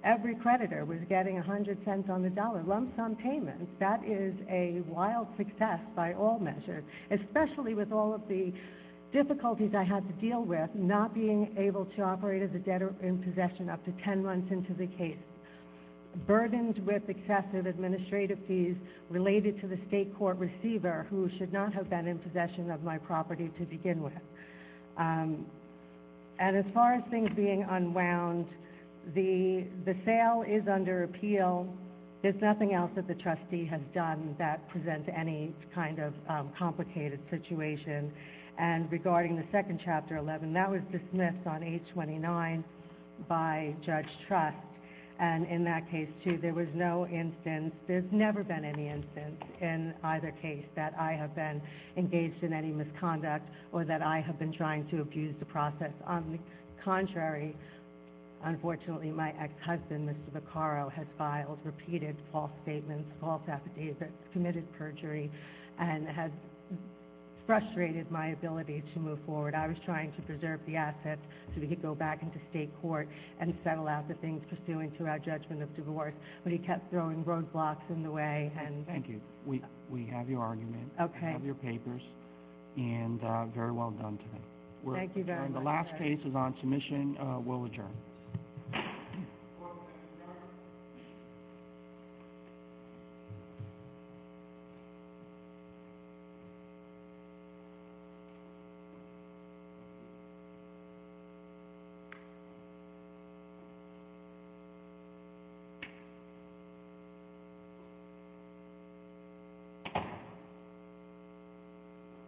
Every creditor was getting 100 cents on the dollar, lump sum payments. That is a wild success by all measures, especially with all of the difficulties I had to deal with, not being able to operate as a debtor in possession up to 10 months into the case, burdened with excessive administrative fees related to the state court receiver who should not have been in possession of my property to begin with. And as far as things being unwound, the sale is under appeal. There's nothing else that the trustee has done that presents any kind of complicated situation. And regarding the second Chapter 11, that was dismissed on 8-29 by Judge Truss. And in that case, too, there was no instance. There's never been any instance in either case that I have been engaged in any misconduct or that I have been trying to abuse the process. On the contrary, unfortunately, my husband, Mr. Vaccaro, has filed repeated false statements, false affidavits, committed perjury, and has frustrated my ability to move forward. I was trying to preserve the assets so we could go back into state court and settle out the things we were doing throughout Judgment of Divorce, but he kept throwing roadblocks in the way. Thank you. We have your argument. We have your papers. And very well done today. Thank you very much. And the last case is on submission. We'll adjourn. Thank you.